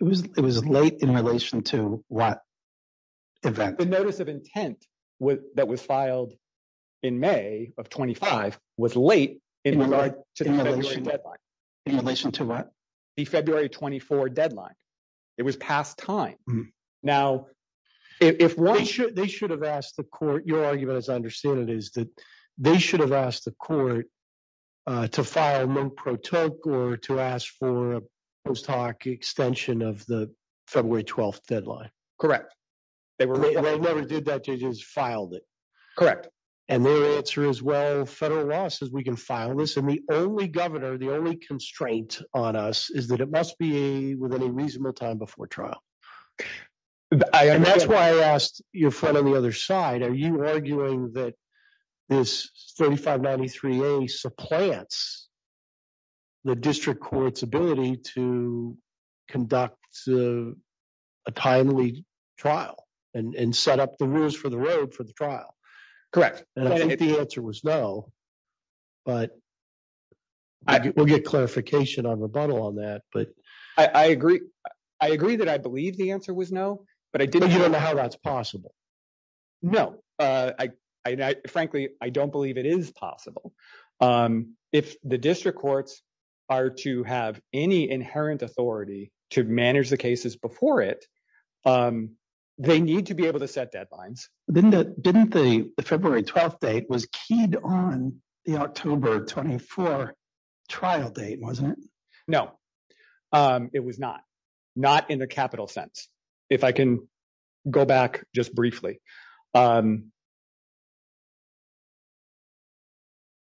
It was late in relation to what? The notice of intent that was filed in May of 25 was late in relation to the deadline. In relation to what? The February 24 deadline. It was past time. Now, if one should... They should have asked the court, your argument as I understand it is that they should have asked the court to file no pro toque or to ask for a post hoc extension of the February 12 deadline. Correct. They never did that, they just filed it. Correct. And their answer is, well, federal law says we can file this. And the only governor, the only constraint on us is that it must be within a reasonable time before trial. And that's why I asked your friend on the other side, are you arguing that this 3593A supplants the district court's ability to conduct a timely trial and set up the rules for the road for the Correct. The answer was no, but we'll get clarification on rebuttal on that. But I agree. I agree that I believe the answer was no, but I didn't know how that's possible. No, I frankly, I don't believe it is possible. If the district courts are to have any inherent authority to manage the cases before it, they need to be able to set deadlines. Didn't the February 12th date was keyed on the October 24 trial date, wasn't it? No, it was not. Not in a capital sense. If I can go back just briefly.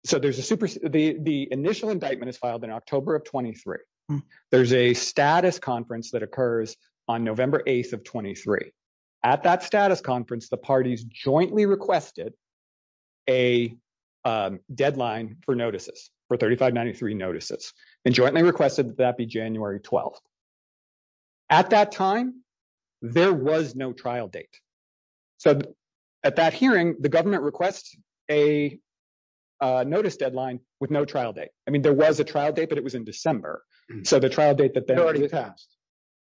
So there's a super, the initial indictment is filed in October of 23. There's a status conference that occurs on November 8th of 23. At that status conference, the parties jointly requested a deadline for notices for 3593 notices and jointly requested that be January 12th. At that time, there was no trial date. So at that hearing, the government requests a notice deadline with no trial date. I mean, there was a trial date, but it was in December. So the trial date that they already passed.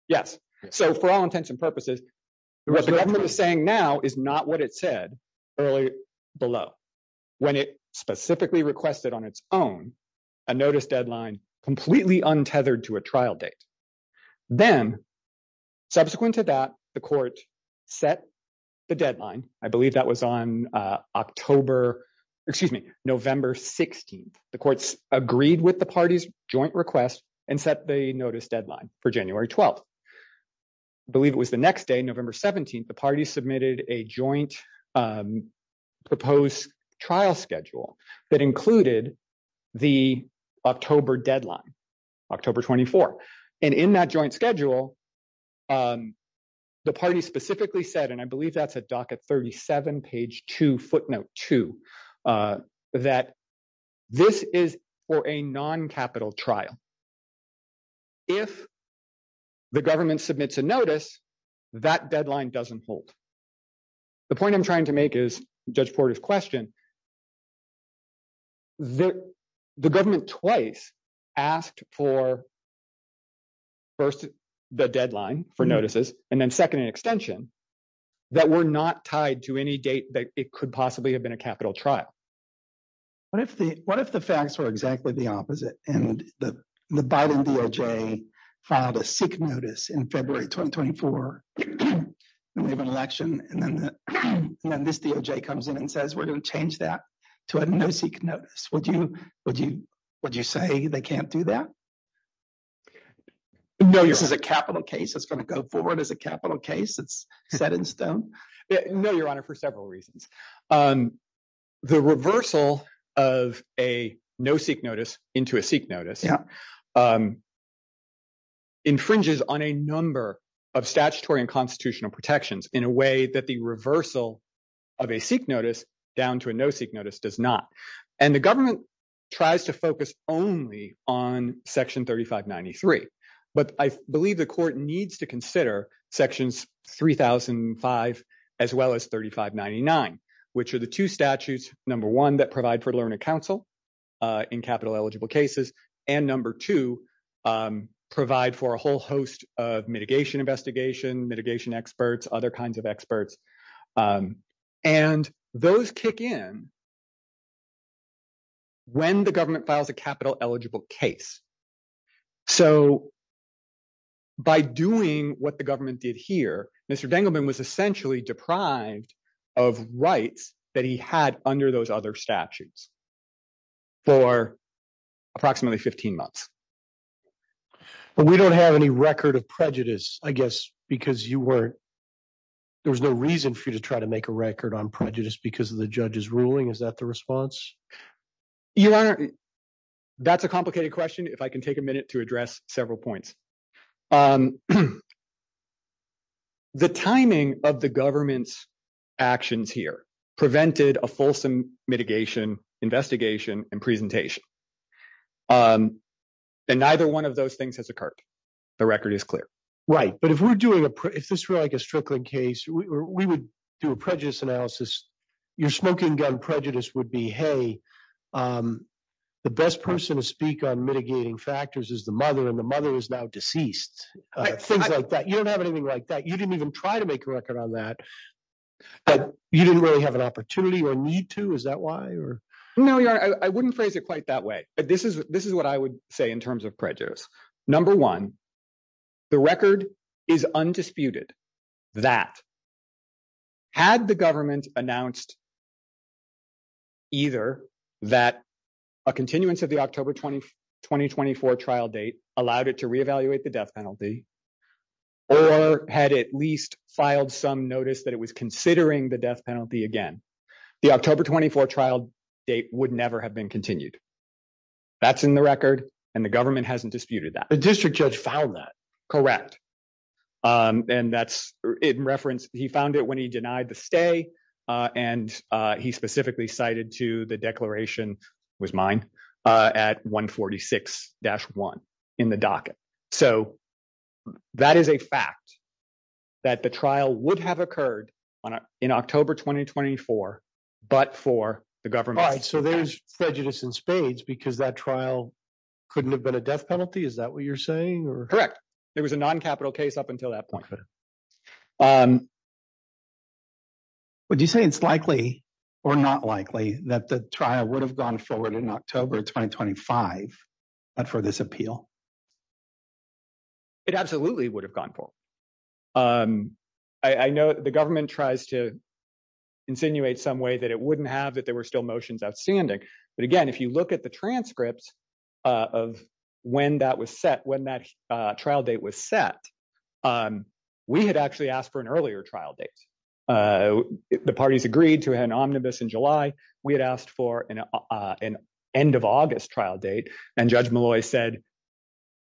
Yes. So for all intents and purposes, what the government is saying now is not what it said earlier below when it specifically requested on its own, a notice deadline completely untethered to a trial date. Then subsequent to that, the courts set the deadline. I believe that was on October, excuse me, November 16th. The courts agreed with the party's joint request and set a notice deadline for January 12th. I believe it was the next day, November 17th, the party submitted a joint proposed trial schedule that included the October deadline, October 24th. And in that joint schedule, the party specifically said, and I believe that's at docket 37, page two, note two, that this is for a non-capital trial. If the government submits a notice, that deadline doesn't hold. The point I'm trying to make is, Judge Porter's question, the government twice asked for first, the deadline for notices, and then second extension that were not tied to any date that it could possibly have been a capital trial. What if the facts were exactly the opposite and the Biden DOJ filed a sick notice in February 2024 and we have an election, and then this DOJ comes in and says, we're going to change that to a no sick notice. Would you say they can't do that? No, this is a capital case that's going to go forward as a capital case that's set in stone? No, your honor, for several reasons. The reversal of a no sick notice into a sick notice infringes on a number of statutory and constitutional protections in a way that the reversal of a sick notice down to a no sick notice does not. And the government tries to focus only on section 3593. But I believe the court needs to consider sections 3005 as well as 3599, which are the two statutes, number one, that provide for learning counsel in capital eligible cases, and number two, provide for a whole host of mitigation investigation, mitigation experts, other kinds of experts. And those kick in when the government files a capital eligible case. So by doing what the government did here, Mr. Dingelman was essentially deprived of rights that he had under those other statutes for approximately 15 months. But we don't have any record of prejudice, I guess, because you were, there's no reason for you to try to make a record on prejudice because the judge is ruling. Is that the response? Your honor, that's a complicated question. If I can take a minute to address several points. The timing of the government's actions here prevented a fulsome mitigation investigation and presentation. And neither one of those things has occurred. The record is clear. Right. But if we're doing a, if this were like a Strickland case, we would do a prejudice analysis your smoking gun prejudice would be, hey, the best person to speak on mitigating factors is the mother and the mother is now deceased. Things like that. You don't have anything like that. You didn't even try to make a record on that, but you didn't really have an opportunity or need to, is that why? No, your honor, I wouldn't phrase it quite that way. This is what I would say in that had the government announced either that a continuance of the October 20, 2024 trial date allowed it to reevaluate the death penalty or had at least filed some notice that it was considering the death penalty. Again, the October 24 trial date would never have been continued. That's in the record. And the government hasn't disputed that the district judge filed that correct. And that's in reference. He found it when he denied the stay and he specifically cited to the declaration was mine at one 46 dash one in the docket. So that is a fact that the trial would have occurred in October, 2024, but for the government. So there's prejudice in spades because that trial couldn't have been a death penalty. Is that what you're saying? Correct. There was a non-capital case up until that point. Would you say it's likely or not likely that the trial would have gone forward in October, 2025 for this appeal? It absolutely would have gone forward. I know the government tries to insinuate some way that it wouldn't have, that there were still motions outstanding. But again, if you look at the transcripts of when that was set, when that trial date was set, we had actually asked for an earlier trial date. The parties agreed to an omnibus in July. We had asked for an end of August trial date and judge Malloy said,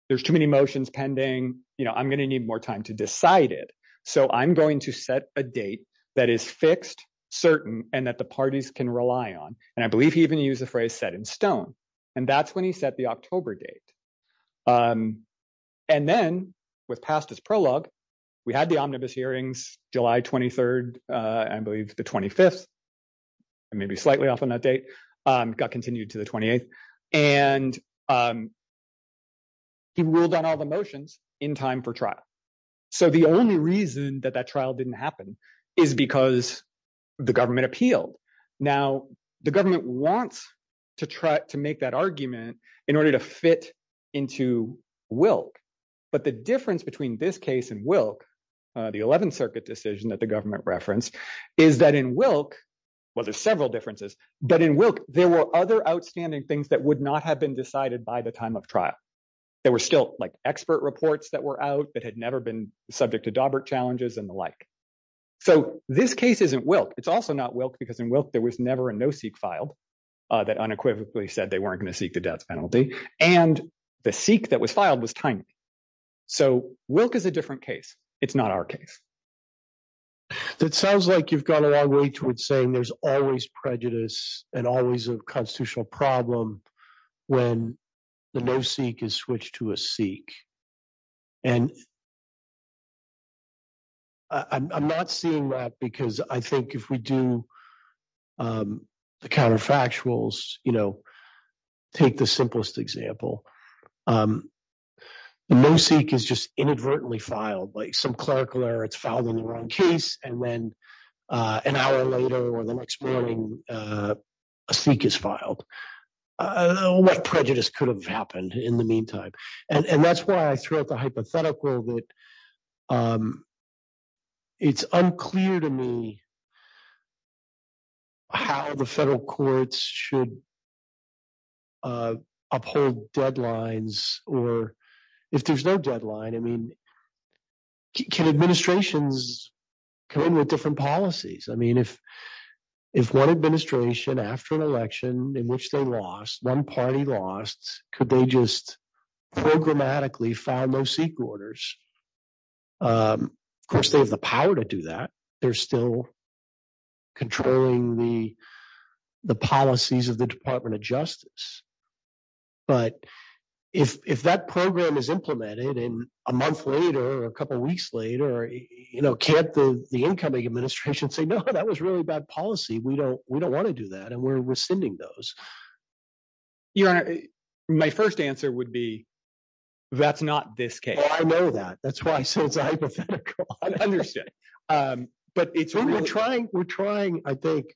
there's too many motions pending. I'm going to need more time to decide it. So I'm going to set a date that is fixed, certain, and that the parties can rely on. And I believe he even used the phrase set in stone. And that's when he set the October date. And then with past his prologue, we had the omnibus hearings, July 23rd, I believe the 25th, maybe slightly off on that date, got continued to the 28th. And he ruled on all the motions in time for trial. So the only reason that that trial didn't happen is because the government appealed. Now, the government wants to try to make that argument in order to fit into Wilk. But the difference between this case and Wilk, the 11th Circuit decision that the government referenced, is that in Wilk, well, there's several differences, but in Wilk, there were other outstanding things that would not have been decided by the time of trial. There were still like expert reports that were out that had never been subject to Daubert challenges and the like. So this case isn't Wilk. It's also not Wilk, because in Wilk, there was never a no-seek filed that unequivocally said they weren't going to seek the death penalty. And the seek that was filed was tiny. So Wilk is a different case. It's not our case. It sounds like you've gone a long way towards saying there's always prejudice and always a constitutional problem when the no-seek is switched to a seek. And I'm not seeing that, because I think if we do the counterfactuals, you know, take the simplest example. The no-seek is just inadvertently filed. Like some clerical error, it's filed in the wrong case, and then an hour later or the next morning, a seek is filed. All that prejudice could have happened in the meantime. And that's why throughout the case, it's hypothetical. It's unclear to me how the federal courts should uphold deadlines, or if there's no deadline. I mean, can administrations come in with different policies? I mean, if one administration after an election in which they lost, one party lost, could they just programmatically file no-seek orders? Of course, they have the power to do that. They're still controlling the policies of the Department of Justice. But if that program is implemented, and a month later or a couple weeks later, you know, can't the incoming administration say, no, that was really bad policy. We don't want to do that, and we're sending those. You know, my first answer would be, that's not this case. Well, I know that. That's why I said it's a hypothetical. I understand. But it's really— We're trying, we're trying, I think.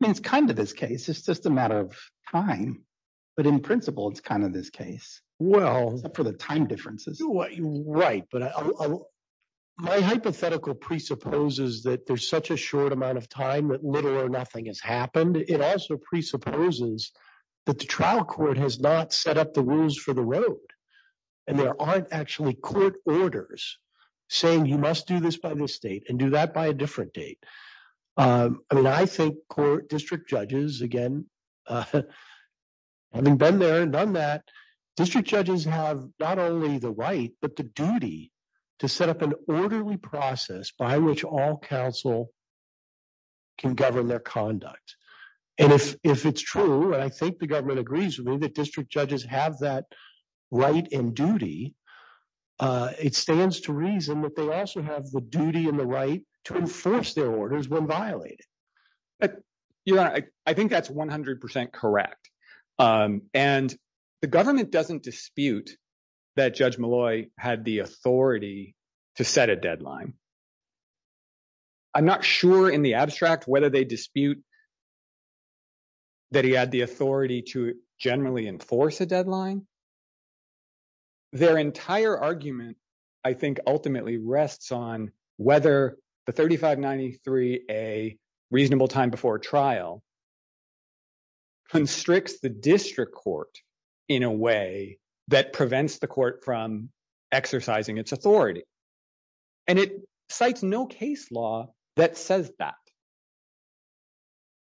I mean, it's kind of this case. It's just a matter of time. But in principle, it's kind of this case. Well, for the time differences. Right. But my hypothetical presupposes that there's such a short amount of time that little or nothing has happened. It also presupposes that the trial court has not set up the rules for the road. And there aren't actually court orders saying you must do this by this date and do that by a different date. I mean, I think court district judges, again, having been there and done that, district judges have not only the right, but the duty to set up an orderly process by which all counsel can govern their conduct. And if it's true, and I think the government agrees with me, that district judges have that right and duty, it stands to reason that they also have the duty and the right to enforce their orders when violated. You know, I think that's 100 percent correct. And the government doesn't dispute that Judge I'm not sure in the abstract whether they dispute that he had the authority to generally enforce a deadline. Their entire argument, I think, ultimately rests on whether the 3593, a reasonable time before trial, constricts the district court in a way that prevents the court from exercising its authority. And it cites no case law that says that.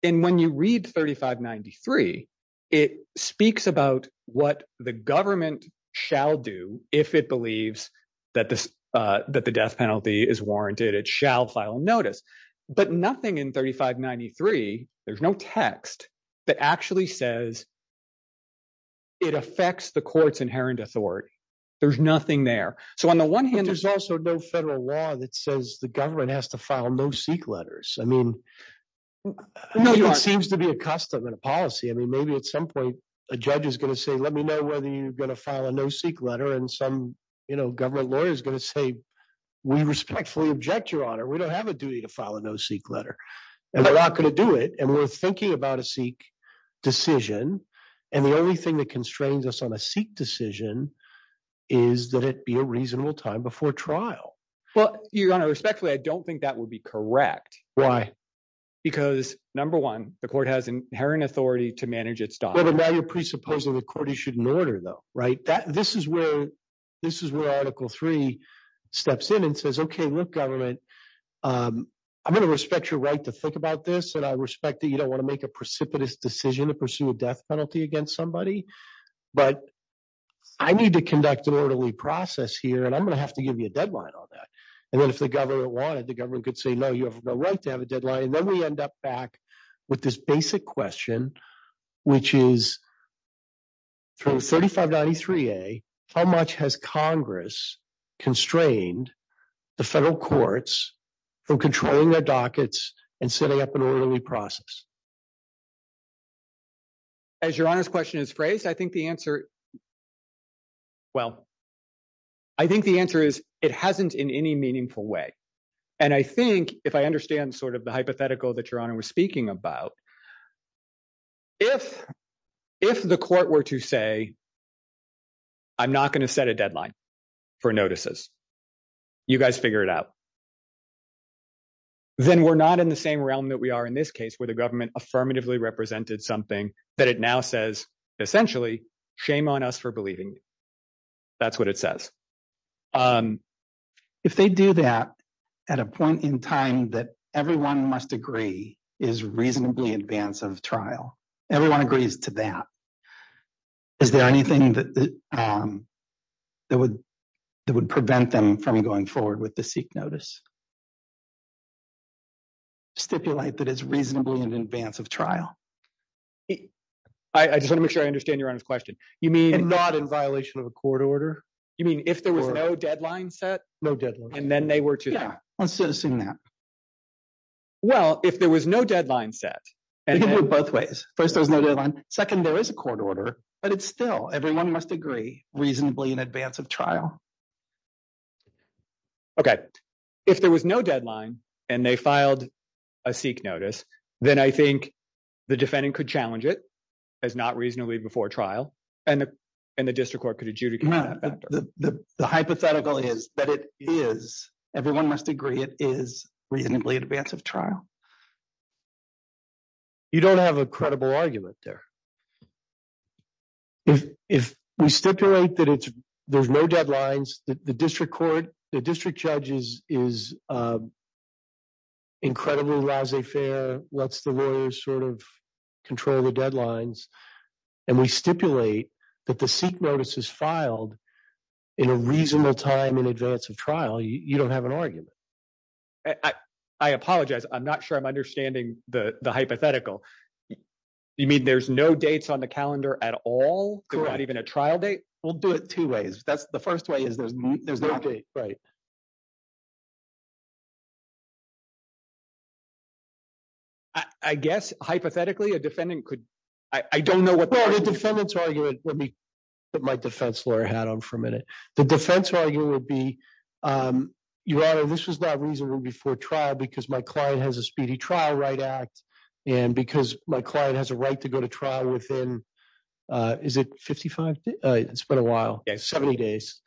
And when you read 3593, it speaks about what the government shall do if it believes that the death penalty is warranted. It shall file notice. But nothing in 3593, there's no text that actually says it affects the inherent authority. There's nothing there. So on the one hand, there's also no federal law that says the government has to file no-seek letters. I mean, it seems to be a custom and a policy. I mean, maybe at some point, a judge is going to say, let me know whether you're going to file a no-seek letter. And some, you know, government lawyer is going to say, we respectfully object, Your Honor. We don't have a duty to file a no-seek letter. And they're not going to do it. And we're thinking about a no-seek decision. And the only thing that constrains us on a no-seek decision is that it be a reasonable time before trial. Well, Your Honor, respectfully, I don't think that would be correct. Why? Because number one, the court has inherent authority to manage its documents. Well, the matter presupposes the court issued an order, though, right? This is where Article III steps in and says, OK, look, government, I'm going to respect your right to about this. And I respect that you don't want to make a precipitous decision to pursue a death penalty against somebody. But I need to conduct an orderly process here. And I'm going to have to give you a deadline on that. And then if the government wanted, the government could say, no, you have no right to have a deadline. And then we end up back with this basic question, which is, from 3593A, how much has Congress constrained the federal courts from controlling their dockets and setting up an orderly process? As Your Honor's question is phrased, I think the answer is it hasn't in any meaningful way. And I think, if I understand sort of the hypothetical that Your Honor was speaking about, if the court were to say, I'm not going to set a deadline for notices, you guys figure it out, then we're not in the same realm that we are in this case, where the government affirmatively represented something that it now says, essentially, shame on us for believing you. That's what it says. If they do that at a point in time that everyone must agree is reasonably in advance of trial, everyone agrees to that, is there anything that would prevent them from going forward with the seek notice? Stipulate that it's reasonable in advance of trial. I just want to make sure I understand Your Honor's question. You mean not in violation of a court order? You mean if there was no deadline set? No deadline. And then they were to? Yeah, let's assume that. Well, if there was no deadline set, and you can go both ways. First, there is a court order, but it's still, everyone must agree, reasonably in advance of trial. Okay. If there was no deadline, and they filed a seek notice, then I think the defendant could challenge it as not reasonably before trial, and the district court could adjudicate. The hypothetical is that it is, everyone must agree it is, reasonably in advance of trial. You don't have a credible argument there. If we stipulate that there's no deadlines, the district court, the district judge is incredibly laissez-faire, lets the lawyers sort of control the deadlines, and we stipulate that the seek notice is filed in a reasonable time in advance of trial, you don't have an argument. I apologize. I'm not sure I'm understanding the hypothetical. You mean there's no dates on the calendar at all? There's not even a trial date? We'll do it two ways. The first way is there's no date. Right. I guess, hypothetically, a defendant could, I don't know what. Well, the defendant's argument, let me put my defense lawyer hat on for a minute. The defense lawyer would be, your honor, this is not reasonable before trial because my client has a speedy trial right out, and because my client has a right to go to trial within, is it 55? It's been a while. 70 days.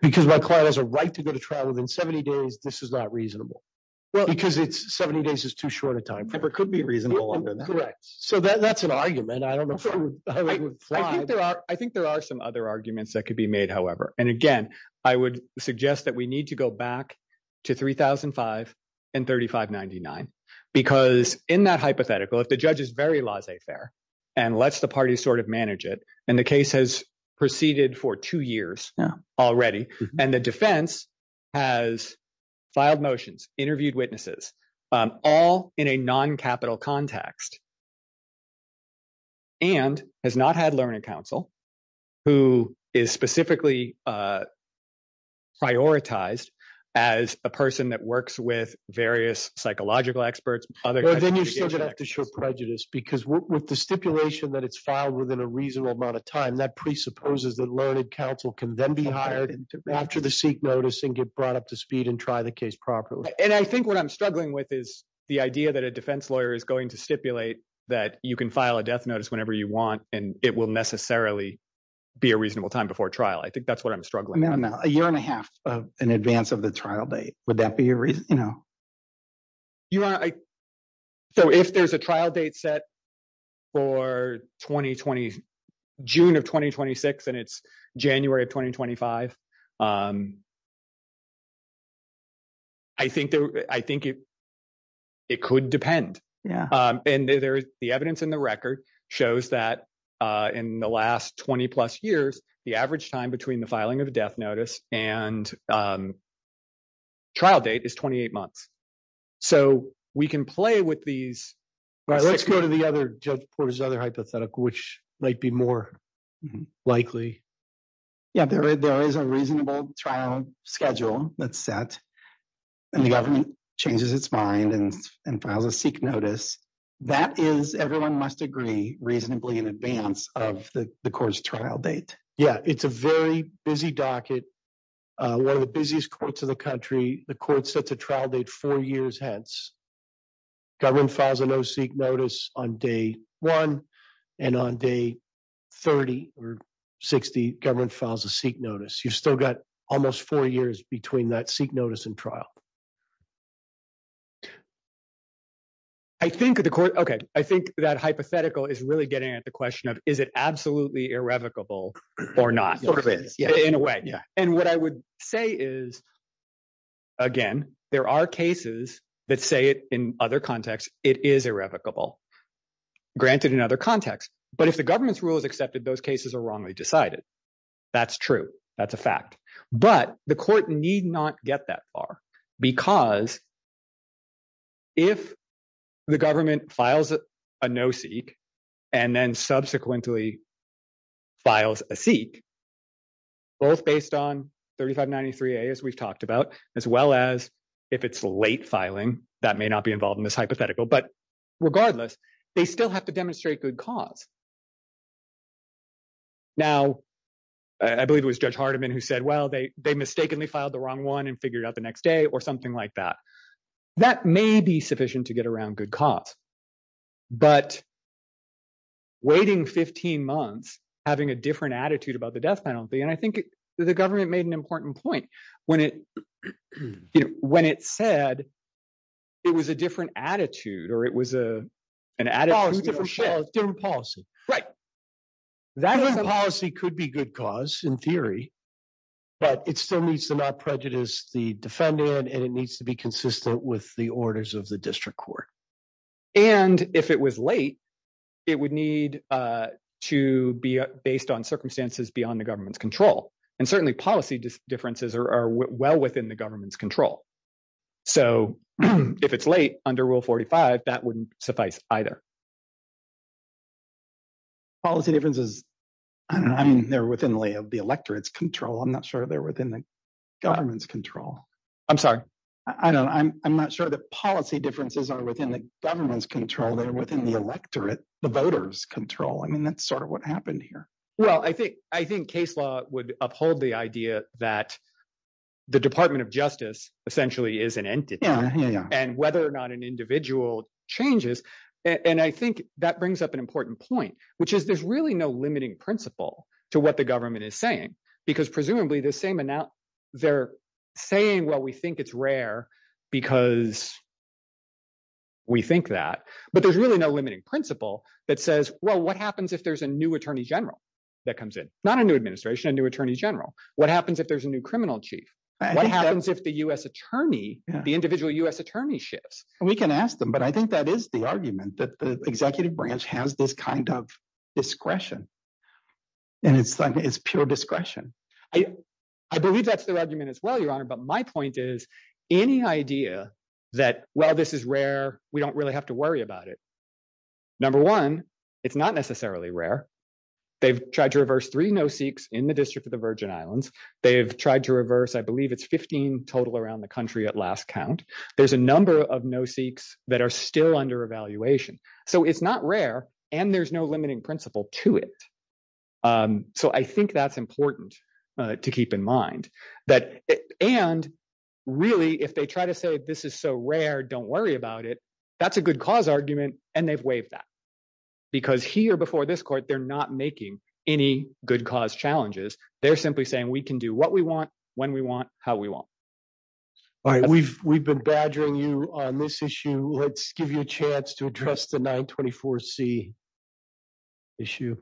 Because my client has a right to go to trial within 70 days, this is not reasonable. Well, because 70 days is too short a time. It could be reasonable. So that's an argument. I don't know. I think there are some other arguments that could be made, however. And again, I would suggest that we need to go back to 3005 and 3599, because in that hypothetical, if the judge is very laissez-faire and lets the party sort of manage it, and the case has proceeded for two years already, and the defense has filed motions, interviewed witnesses, all in a non-capital context, and has not had learned counsel, who is specifically prioritized as a person that works with various psychological experts. But then you still have to show prejudice, because with the stipulation that it's filed within a reasonable amount of time, that presupposes that learned counsel can then be hired after the seat notice and get brought up to speed and try the proper way. And I think what I'm struggling with is the idea that a defense lawyer is going to stipulate that you can file a death notice whenever you want, and it will necessarily be a reasonable time before trial. I think that's what I'm struggling with. No, no. A year and a half in advance of the trial date, would that be a reason? So if there's a trial date set for June of 2026, and it's January of 2025, I think it could depend. And the evidence in the record shows that in the last 20-plus years, the average time between the filing of a death notice and trial date is 28 months. So we can play with these... All right, let's go to the other hypothetical, which might be more likely. Yeah, there is a reasonable trial schedule that's set, and the government changes its mind and files a seat notice. That is, everyone must agree reasonably in advance of the court's trial date. Yeah, it's a very busy docket. One of the busiest courts in the country. The court sets a trial date four years hence. Government files a no seat notice on day one, and on day 30 or 60, government files a seat notice. You've still got almost four years between that seat notice and trial. I think that hypothetical is really getting at the question of, is it absolutely irrevocable or not? In a way, yeah. And what I would say is, again, there are cases that say it in other contexts, it is irrevocable, granted in other contexts. But if the government's rule is accepted, those cases are wrongly decided. That's true. That's a fact. But the court need not get that far because if the government files a no seat, and then subsequently files a seat, both based on 3593A, as we've talked about, as well as if it's late filing, that may not be involved in this hypothetical. But regardless, they still have to demonstrate good cause. Now, I believe it was Judge Hardiman who said, well, they mistakenly filed the wrong one and figured it out the next day, or something like that. That may be sufficient to get around good cause. But waiting 15 months, having a different attitude about the death penalty, and I think the government made an important point when it said it was a different attitude, or it was a policy. That policy could be good cause in theory, but it still needs to not prejudice the defendant, and it needs to be consistent with the orders of the district court. And if it was late, it would need to be based on circumstances beyond the government's control. And certainly policy differences are well within the government's control. So if it's late under Rule 45, that wouldn't suffice either. Policy differences, I mean, they're within the electorate's control. I'm not sure they're within the government's control. I'm sorry. I'm not sure that policy differences are within the government's control. They're within the electorate, the voters' control. I mean, that's sort of what happened here. Well, I think case law would uphold the idea that the Department of Justice essentially is an entity, and whether or not an individual changes, and I think that brings up an important point, which is there's really no limiting principle to what the government is saying, because presumably, they're saying, well, we think it's rare because we think that, but there's really no limiting principle that says, well, what happens if there's a new attorney general that comes in? Not a new administration, a new attorney general. What happens if there's a new criminal chief? What happens if the individual U.S. attorney shifts? We can ask them, but I think that is the argument that the executive branch has this kind of discretion, and it's pure discretion. I believe that's the argument as well, Your Honor, but my point is any idea that, well, this is rare, we don't really have to worry about it. Number one, it's not necessarily rare. They've tried to reverse three no-seeks in the District of the Virgin Islands. They've tried to reverse, I believe, it's 15 total around the country at last count. There's a number of no-seeks that are still under evaluation, so it's not rare, and there's no limiting principle to it, so I think that's important to keep in mind. And really, if they try to say, this is so rare, don't worry about it, that's a good cause argument, and they've waived that because here before this court, they're not making any good cause challenges. They're simply saying, we can do what we want, when we want, how we want. All right, we've been badgering you on this issue. Let's give you a chance to address the 924C issue.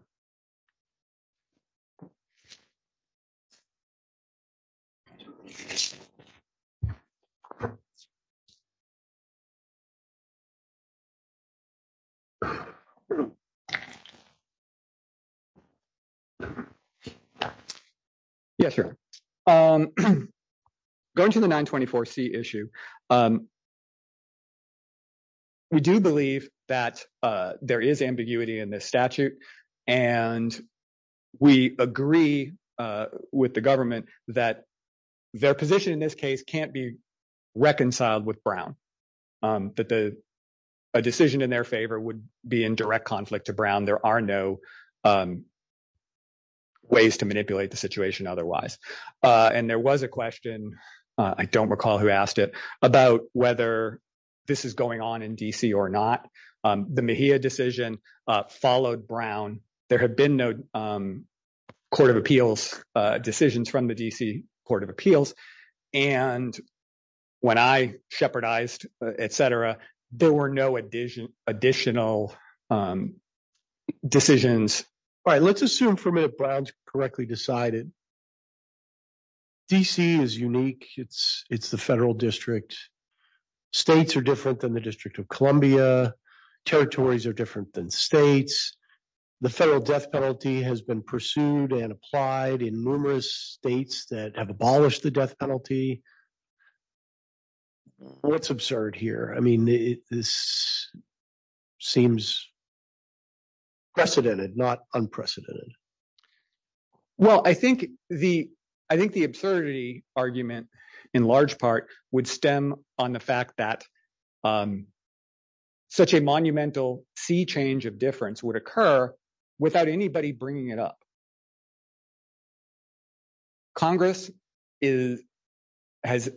Yes, sir. Going to the 924C issue, we do believe that there is ambiguity in this statute, and we agree with the government that their position in this case can't be reconciled with Brown, that a decision in their favor would be in direct conflict to Brown. There are no ways to manipulate the situation otherwise, and there was a question, I don't recall who asked about whether this is going on in D.C. or not. The Mejia decision followed Brown. There have been no Court of Appeals decisions from the D.C. Court of Appeals, and when I shepherdized, etc., there were no additional decisions. All right, let's assume for a minute Brown's decided. D.C. is unique. It's the federal district. States are different than the District of Columbia. Territories are different than states. The federal death penalty has been pursued and applied in numerous states that have abolished the death penalty. What's absurd here? I mean, this seems precedented, not unprecedented. Well, I think the absurdity argument in large part would stem on the fact that such a monumental sea change of difference would occur without anybody bringing it up. Congress has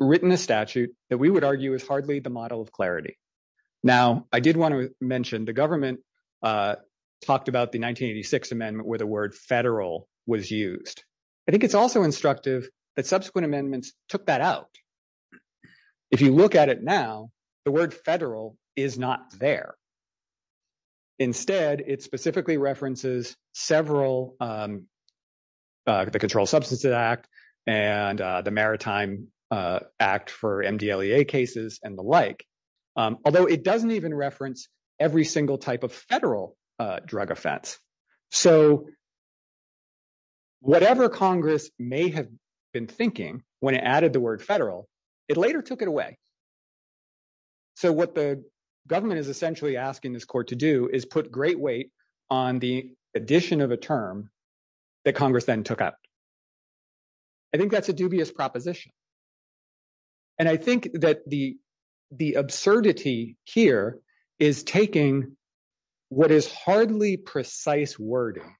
written a statute that we would argue is hardly the model of clarity. Now, I did want to mention the government talked about the 1986 Amendment where the word federal was used. I think it's also instructive that subsequent amendments took that out. If you look at it now, the word federal is not there. Instead, it specifically references several, the Controlled Substances Act and the Maritime Act for MDLEA cases and the like, although it doesn't even reference every single type of federal drug offense. So, whatever Congress may have been thinking when it added the word federal, it later took it away. So, what the government is essentially asking this court to do is put great weight on the addition of a term that Congress then took out. I think that's a dubious proposition. And I think that the absurdity here is taking what is hardly precise wording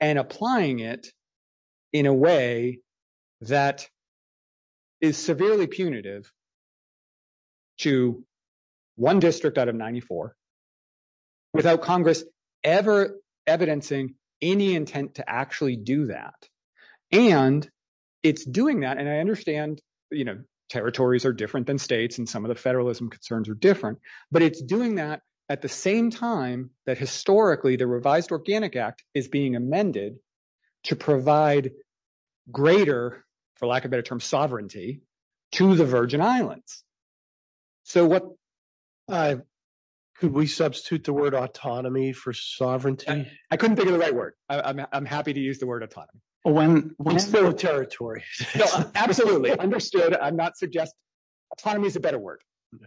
and applying it in a way that is severely punitive to one district out of 94 without Congress ever evidencing any intent to actually do that. And it's doing that, and I understand territories are different than states and some of the federalism concerns are different, but it's doing that at the same time that historically, the revised Organic Act is being amended to provide greater, for lack of better term, sovereignty to the Virgin Islands. So, could we substitute the word autonomy for sovereignty? I couldn't think of the right word. I'm happy to use the word autonomy. Well, when... When there are territories. Absolutely. Understood. I'm not suggesting... Autonomy is a better word.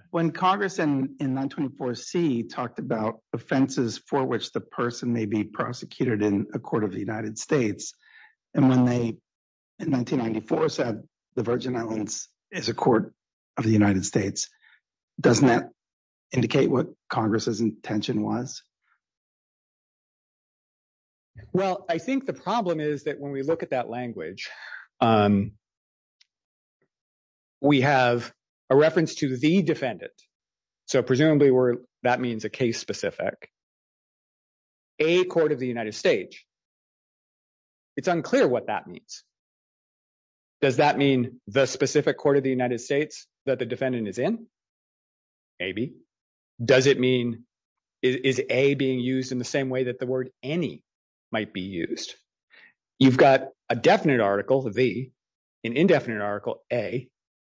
When Congress in 1924C talked about offenses for which the person may be prosecuted in a court of the United States, and when they in 1994 said the Virgin Islands is a court of the United States, doesn't that indicate what Congress's intention was? Well, I think the problem is that when we look at that language, we have a reference to the defendant. So, presumably that means a case specific. A court of the United States. It's unclear what that means. Does that mean the specific court of the United States that the defendant is in? Maybe. Does it mean... Is A being used in the same way that the word any might be used? You've got a definite article, B, an indefinite article, A,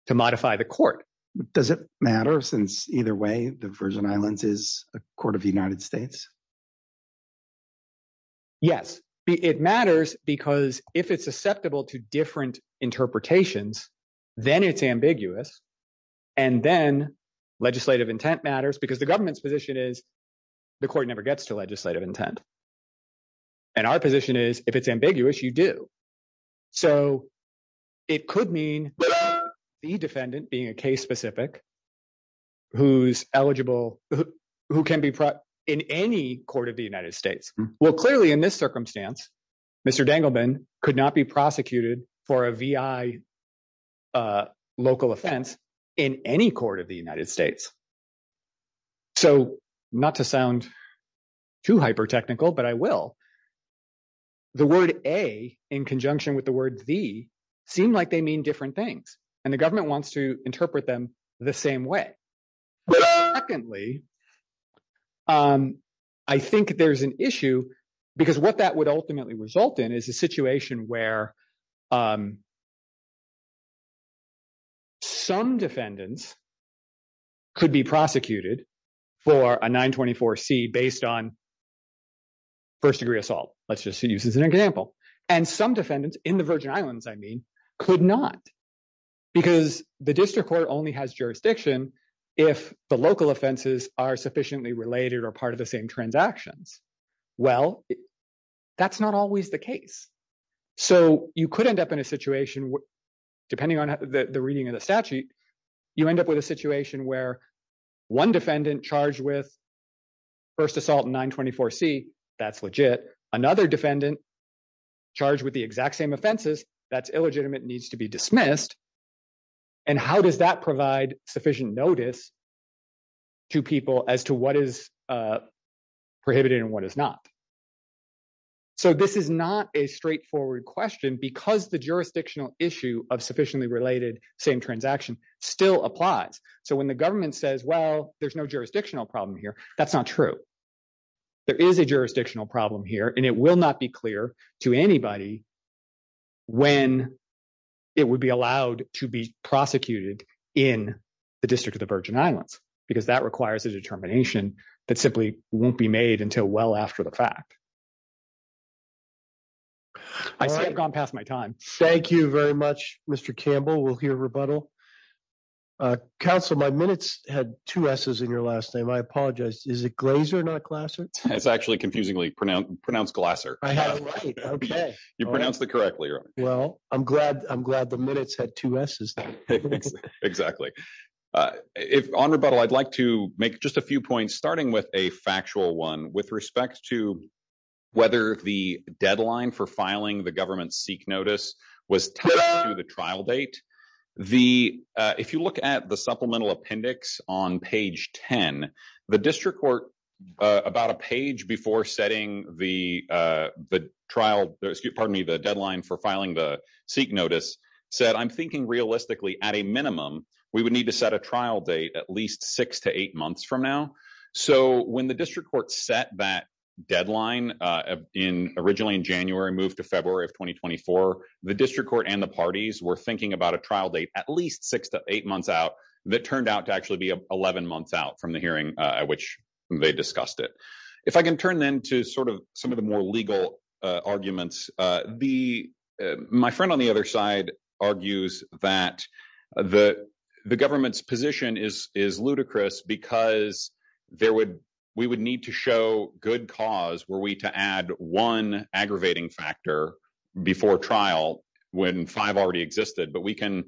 to modify the court. Does it matter since either way the Virgin Islands is a court of the United States? Yes. It matters because if it's susceptible to different interpretations, then it's ambiguous. And then legislative intent matters because the government's position is the court never gets to legislative intent. And our position is if it's ambiguous, you do. So, it could mean the defendant being a case specific who's eligible, who can be in any court of the United States. Well, clearly in this circumstance, Mr. Dangleman could not be prosecuted for a VI local offense in any court of the United States. So, not to sound too hyper-technical, but I will. The word A in conjunction with the word V seem like they mean different things and the government wants to interpret them the same way. Secondly, I think there's an issue because what that would ultimately result in is a situation where some defendants could be prosecuted for a 924C based on first degree assault. Let's just use this as an example. And some defendants in the Virgin Islands, I mean, could not because the district court only has jurisdiction if the local offenses are sufficiently related or part same transactions. Well, that's not always the case. So, you could end up in a situation, depending on the reading of the statute, you end up with a situation where one defendant charged with first assault in 924C, that's legit. Another defendant charged with the exact same offenses, that's illegitimate, needs to be dismissed. And how does that provide sufficient notice to people as to what is prohibited and what is not? So, this is not a straightforward question because the jurisdictional issue of sufficiently related same transaction still applies. So, when the government says, well, there's no jurisdictional problem here, that's not true. There is a jurisdictional problem here and it will not be clear to anybody when it would be allowed to be prosecuted in the District of the Virgin Islands because that requires a determination that simply won't be made until well after the fact. I think I've gone past my time. Thank you very much, Mr. Campbell. We'll hear rebuttal. Counsel, my minutes had two S's in your last name. I apologize. Is it Glazer, not Glasser? It's actually confusingly pronounced Glasser. You pronounced it correctly. Well, I'm glad the minutes had two S's. Exactly. On rebuttal, I'd like to make just a few points, starting with a factual one with respect to whether the deadline for filing the government's seek notice was tied to the trial date. If you look at the supplemental appendix on page 10, the district court, about a page before setting the deadline for filing the seek notice, said, I'm thinking realistically at a minimum we would need to set a trial date at least six to eight months from now. So, when the district court set that deadline originally in January and moved to February of 2024, the district court and the parties were thinking about a trial date at least six to eight months out that turned out to actually be 11 months out from the hearing at which they discussed it. If I can turn then to sort of some of the more legal arguments, my friend on the other side argues that the government's position is ludicrous because we would need to show good cause were we to add one aggravating factor before trial when five already existed, but we can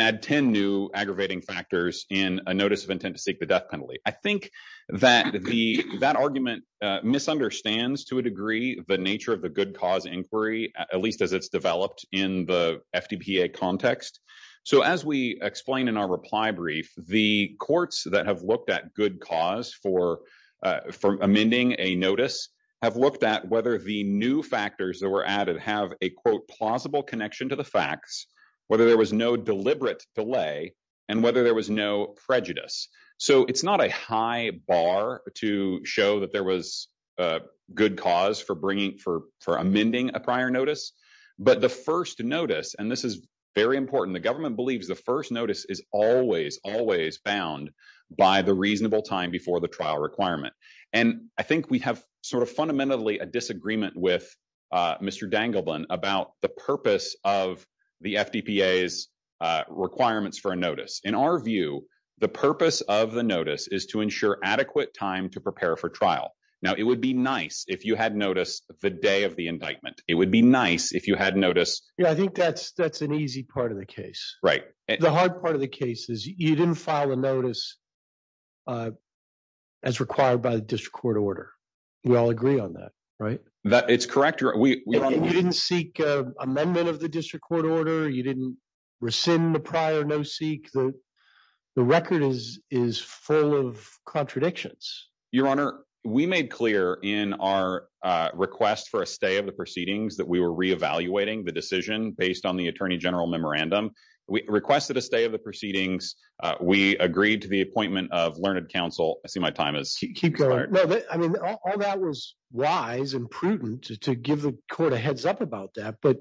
add ten new aggravating factors in a notice of intent to seek the death penalty. I think that argument misunderstands to a degree the nature of the good cause inquiry, at least as it's developed in the FDPA context. So, as we explain in our reply brief, the courts that have looked at good cause for amending a notice have looked at whether the new factors that were added have a, quote, plausible connection to the facts, whether there was no deliberate delay, and whether there was no prejudice. So, it's not a high bar to show that there was good cause for amending a prior notice, but the first notice, and this is very important, the government believes the first notice is always, always bound by the reasonable time before the trial requirement, and I think we have sort of fundamentally a disagreement with Mr. Dangleblen about the purpose of the FDPA's requirements for a notice. In our view, the purpose of the notice is to ensure adequate time to prepare for trial. Now, it would be nice if you had notice the day of the indictment. It would be nice if you had notice... Yeah, I think that's an easy part of the case. Right. The hard part of the case is you didn't file a notice as required by the district court order. We all agree on that, right? It's correct. You didn't seek an amendment of the district court order. You didn't rescind the prior no-seek. The record is full of contradictions. Your Honor, we made clear in our request for a stay of the proceedings that we were re-evaluating the decision based on the attorney general memorandum. We requested a stay of the proceedings. We agreed to the appointment of learned counsel. I see my time is... Keep going. No, I mean, all that was wise and prudent to give the court a heads up about that, but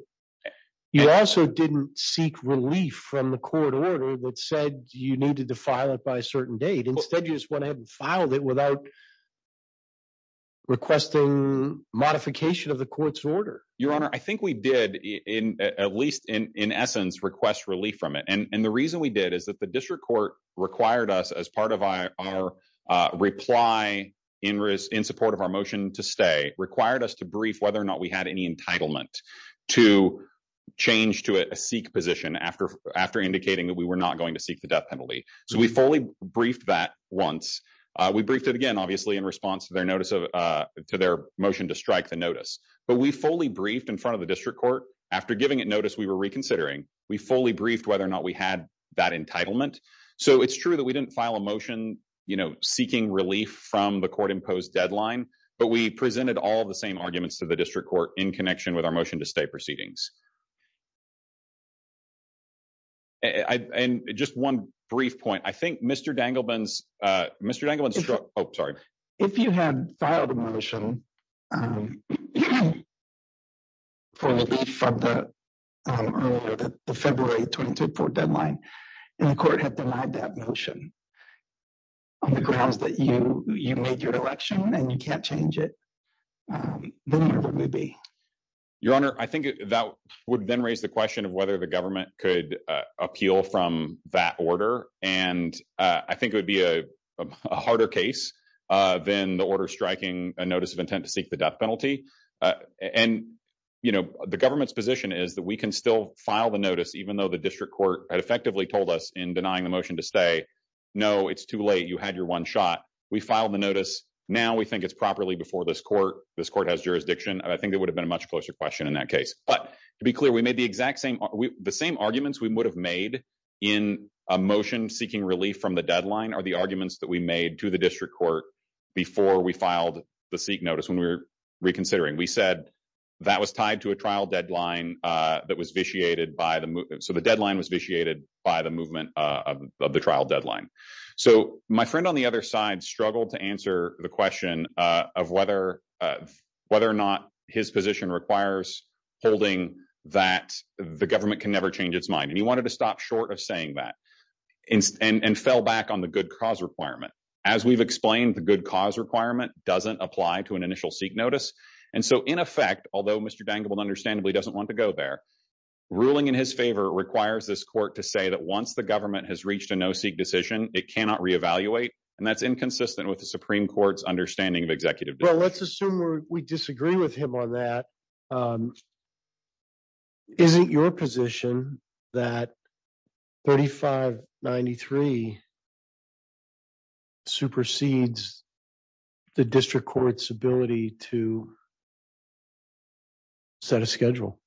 you also didn't seek relief from the court order that said you needed to file it by a certain date. Instead, you just went ahead and filed it without requesting modification of the court's order. Your Honor, I think we did, at least in essence, request relief from it. The reason we did is that the district court required us as part of our reply in support of our motion to stay, required us to brief whether or not we had any entitlement to change to a seek position after indicating that we were not going to seek the death penalty. We fully briefed that once. We briefed it again, obviously, in response to their motion to strike the notice, but we fully briefed in front of the district court. After giving it notice, we were reconsidering. We fully briefed whether or not we had that entitlement. It's true that we didn't file a motion seeking relief from the court-imposed deadline, but we presented all the same arguments to the district court in connection with our If you had filed a motion for relief from the February 22 deadline, and the court had denied that motion on the grounds that you made your election and you can't change it, then where would we be? Your Honor, I think that would then raise the question of whether the government could appeal from that order. I think it would be a harder case than the order striking a notice of intent to seek the death penalty. The government's position is that we can still file the notice even though the district court had effectively told us in denying the motion to stay, no, it's too late. You had your one shot. We filed the notice. Now we think it's properly before this court. This court has jurisdiction. I think it would have been a much closer question in that case. To be clear, the same arguments we would have made in a motion seeking relief from the deadline are the arguments that we made to the district court before we filed the seek notice when we were reconsidering. We said that was tied to a trial deadline that was vitiated by the movement. The deadline was vitiated by the movement of the trial deadline. My friend on the holding that the government can never change its mind. He wanted to stop short of saying that and fell back on the good cause requirement. As we've explained, the good cause requirement doesn't apply to an initial seek notice. In effect, although Mr. Dangable understandably doesn't want to go there, ruling in his favor requires this court to say that once the government has reached a no-seek decision, it cannot reevaluate. That's inconsistent with the Supreme Court's understanding of executive duty. Let's assume we disagree with him on that. Is it your position that 4593 supersedes the district court's ability to set a schedule?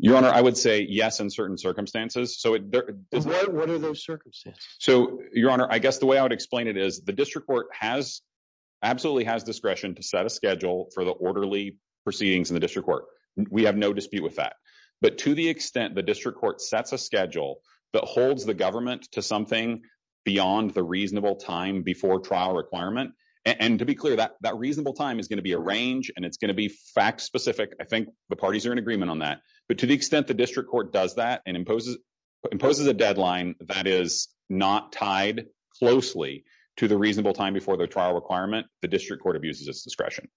Your Honor, I would say yes in certain circumstances. What are those circumstances? So, Your Honor, I guess the way I would explain it is the district court has, absolutely has discretion to set a schedule for the orderly proceedings in the district court. We have no dispute with that. But to the extent the district court sets a schedule that holds the government to something beyond the reasonable time before trial requirement, and to be clear, that reasonable time is going to be a range and it's going to be fact-specific. I think the parties are in agreement on that. But to the extent the district court does that and imposes a deadline that is not tied closely to the reasonable time before the trial requirement, the district court abuses its discretion.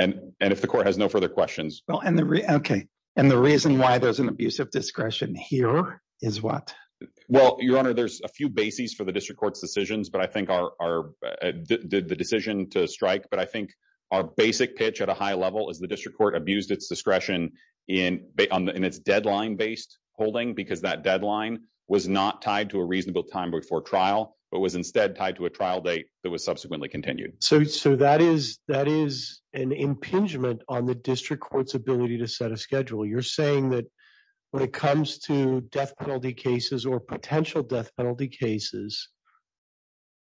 And if the court has no further questions. Well, okay. And the reason why there's an abuse of discretion here is what? Well, Your Honor, there's a few bases for the district court's decisions, but I think the decision to strike, but I think our basic pitch at a high level is the district court abused its discretion in its deadline-based holding because that deadline was not tied to a reasonable time before trial, but was instead tied to a trial date that was subsequently continued. So that is an impingement on the district court's ability to set a schedule. You're saying that when it comes to death penalty cases or potential death penalty cases,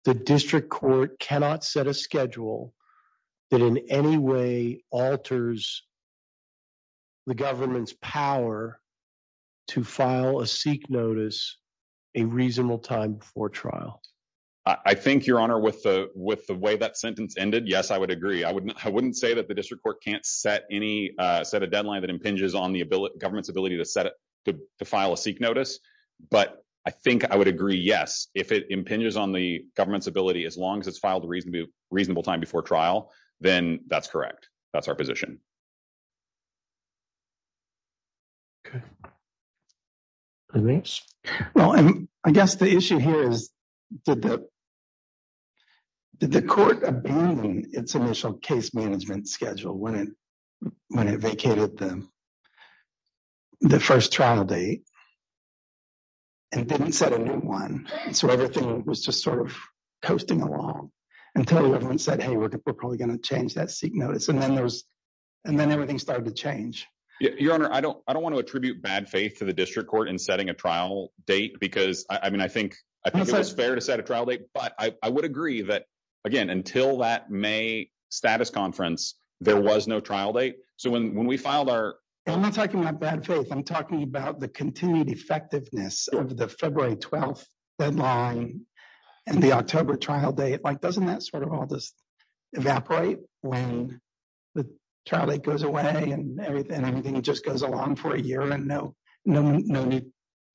the district court cannot set a schedule that in any way alters the government's power to file a seek notice a reasonable time before trial? I think, Your Honor, with the way that sentence ended, yes, I would agree. I wouldn't say that the district court can't set a deadline that impinges on the government's ability to file a seek notice. But I think I would agree, yes, if it impinges on the government's ability, as long as it's filed a reasonable time before trial, then that's correct. That's our position. Okay. Well, I guess the issue here is, did the court abandon its initial case management schedule when it vacated the first trial date and didn't set a new one? So everything was just sort of toasting along until everyone said, hey, look, we're probably going to change that seek notice. And then everything started to change. Your Honor, I don't want to attribute bad faith to the district court in setting a trial date because, I mean, I think it was fair to set a trial date. But I would agree that, again, until that May status conference, there was no trial date. So when we filed our... I'm not talking about bad faith. I'm talking about the continued effectiveness of the February 12 deadline and the October trial date. Like, doesn't that sort of all just the trial date goes away and everything just goes along for a year and no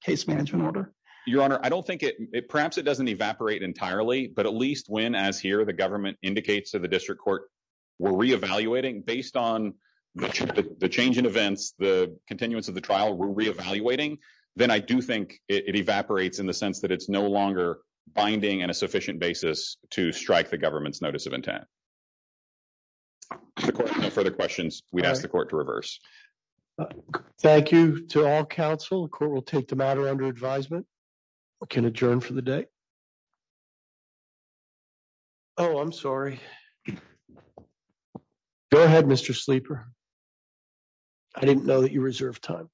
case management order? Your Honor, I don't think it... Perhaps it doesn't evaporate entirely, but at least when, as here, the government indicates to the district court, we're reevaluating based on the change in events, the continuance of the trial, we're reevaluating, then I do think it evaporates in the sense that it's no longer binding on a sufficient basis to strike the government's notice of intent. No further questions. We ask the court to reverse. Thank you to all counsel. The court will take the matter under advisement. Can adjourn for the day. Oh, I'm sorry. Go ahead, Mr. Sleeper. I didn't know that you reserved time.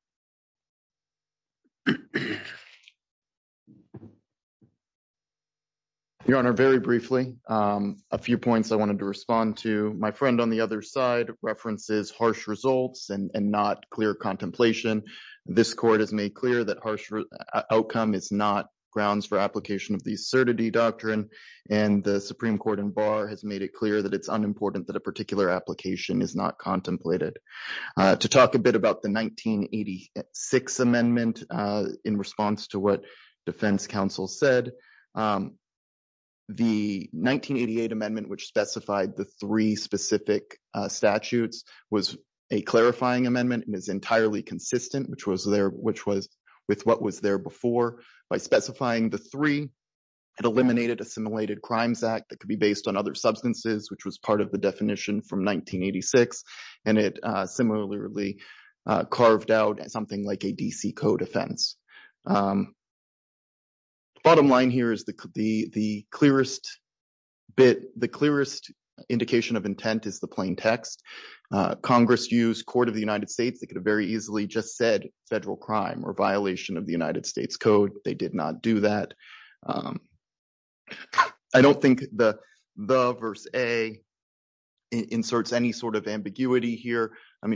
Your Honor, very briefly, a few points I wanted to respond to. My friend on the other side references harsh results and not clear contemplation. This court has made clear that harsh outcome is not grounds for application of the certity doctrine, and the Supreme Court in Barr has made it clear that it's unimportant that a particular application is not contemplated. To talk a bit about the 1986 amendment in response to what defense counsel said, the 1988 amendment which specified the three specific statutes was a clarifying amendment and is entirely consistent with what was there before. By specifying the three, it eliminated assimilated crimes act that could be based on other substances, which was part of the definition from 1986, and it similarly carved out something like a D.C. code offense. Bottom line here is the clearest indication of intent is the plain text. Congress used court of the United States. They could have very easily just said federal crime or violation of ambiguity here.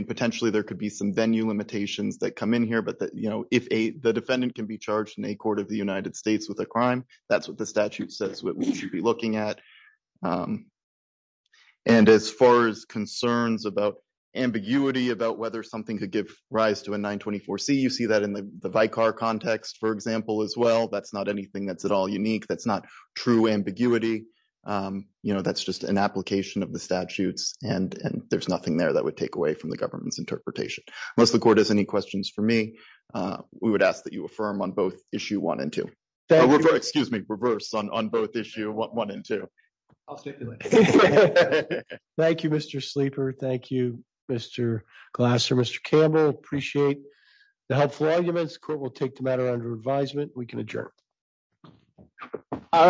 Potentially there could be some venue limitations that come in here. The defendant can be charged in a court of the United States with a crime. That's what the statute says what we should be looking at. As far as concerns about ambiguity about whether something could give rise to a 924C, you see that in the Vicar context, for example, as well. That's not anything that's at all unique. That's not true ambiguity. That's just an application of statutes, and there's nothing there that would take away from the government's interpretation. Unless the court has any questions for me, we would ask that you affirm on both issue one and two. Excuse me, reversed on both issue one and two. I'll stick to it. Thank you, Mr. Sleeper. Thank you, Mr. Glasser. Mr. Campbell, appreciate the helpful arguments. Court will take the matter under advisement. We can adjourn.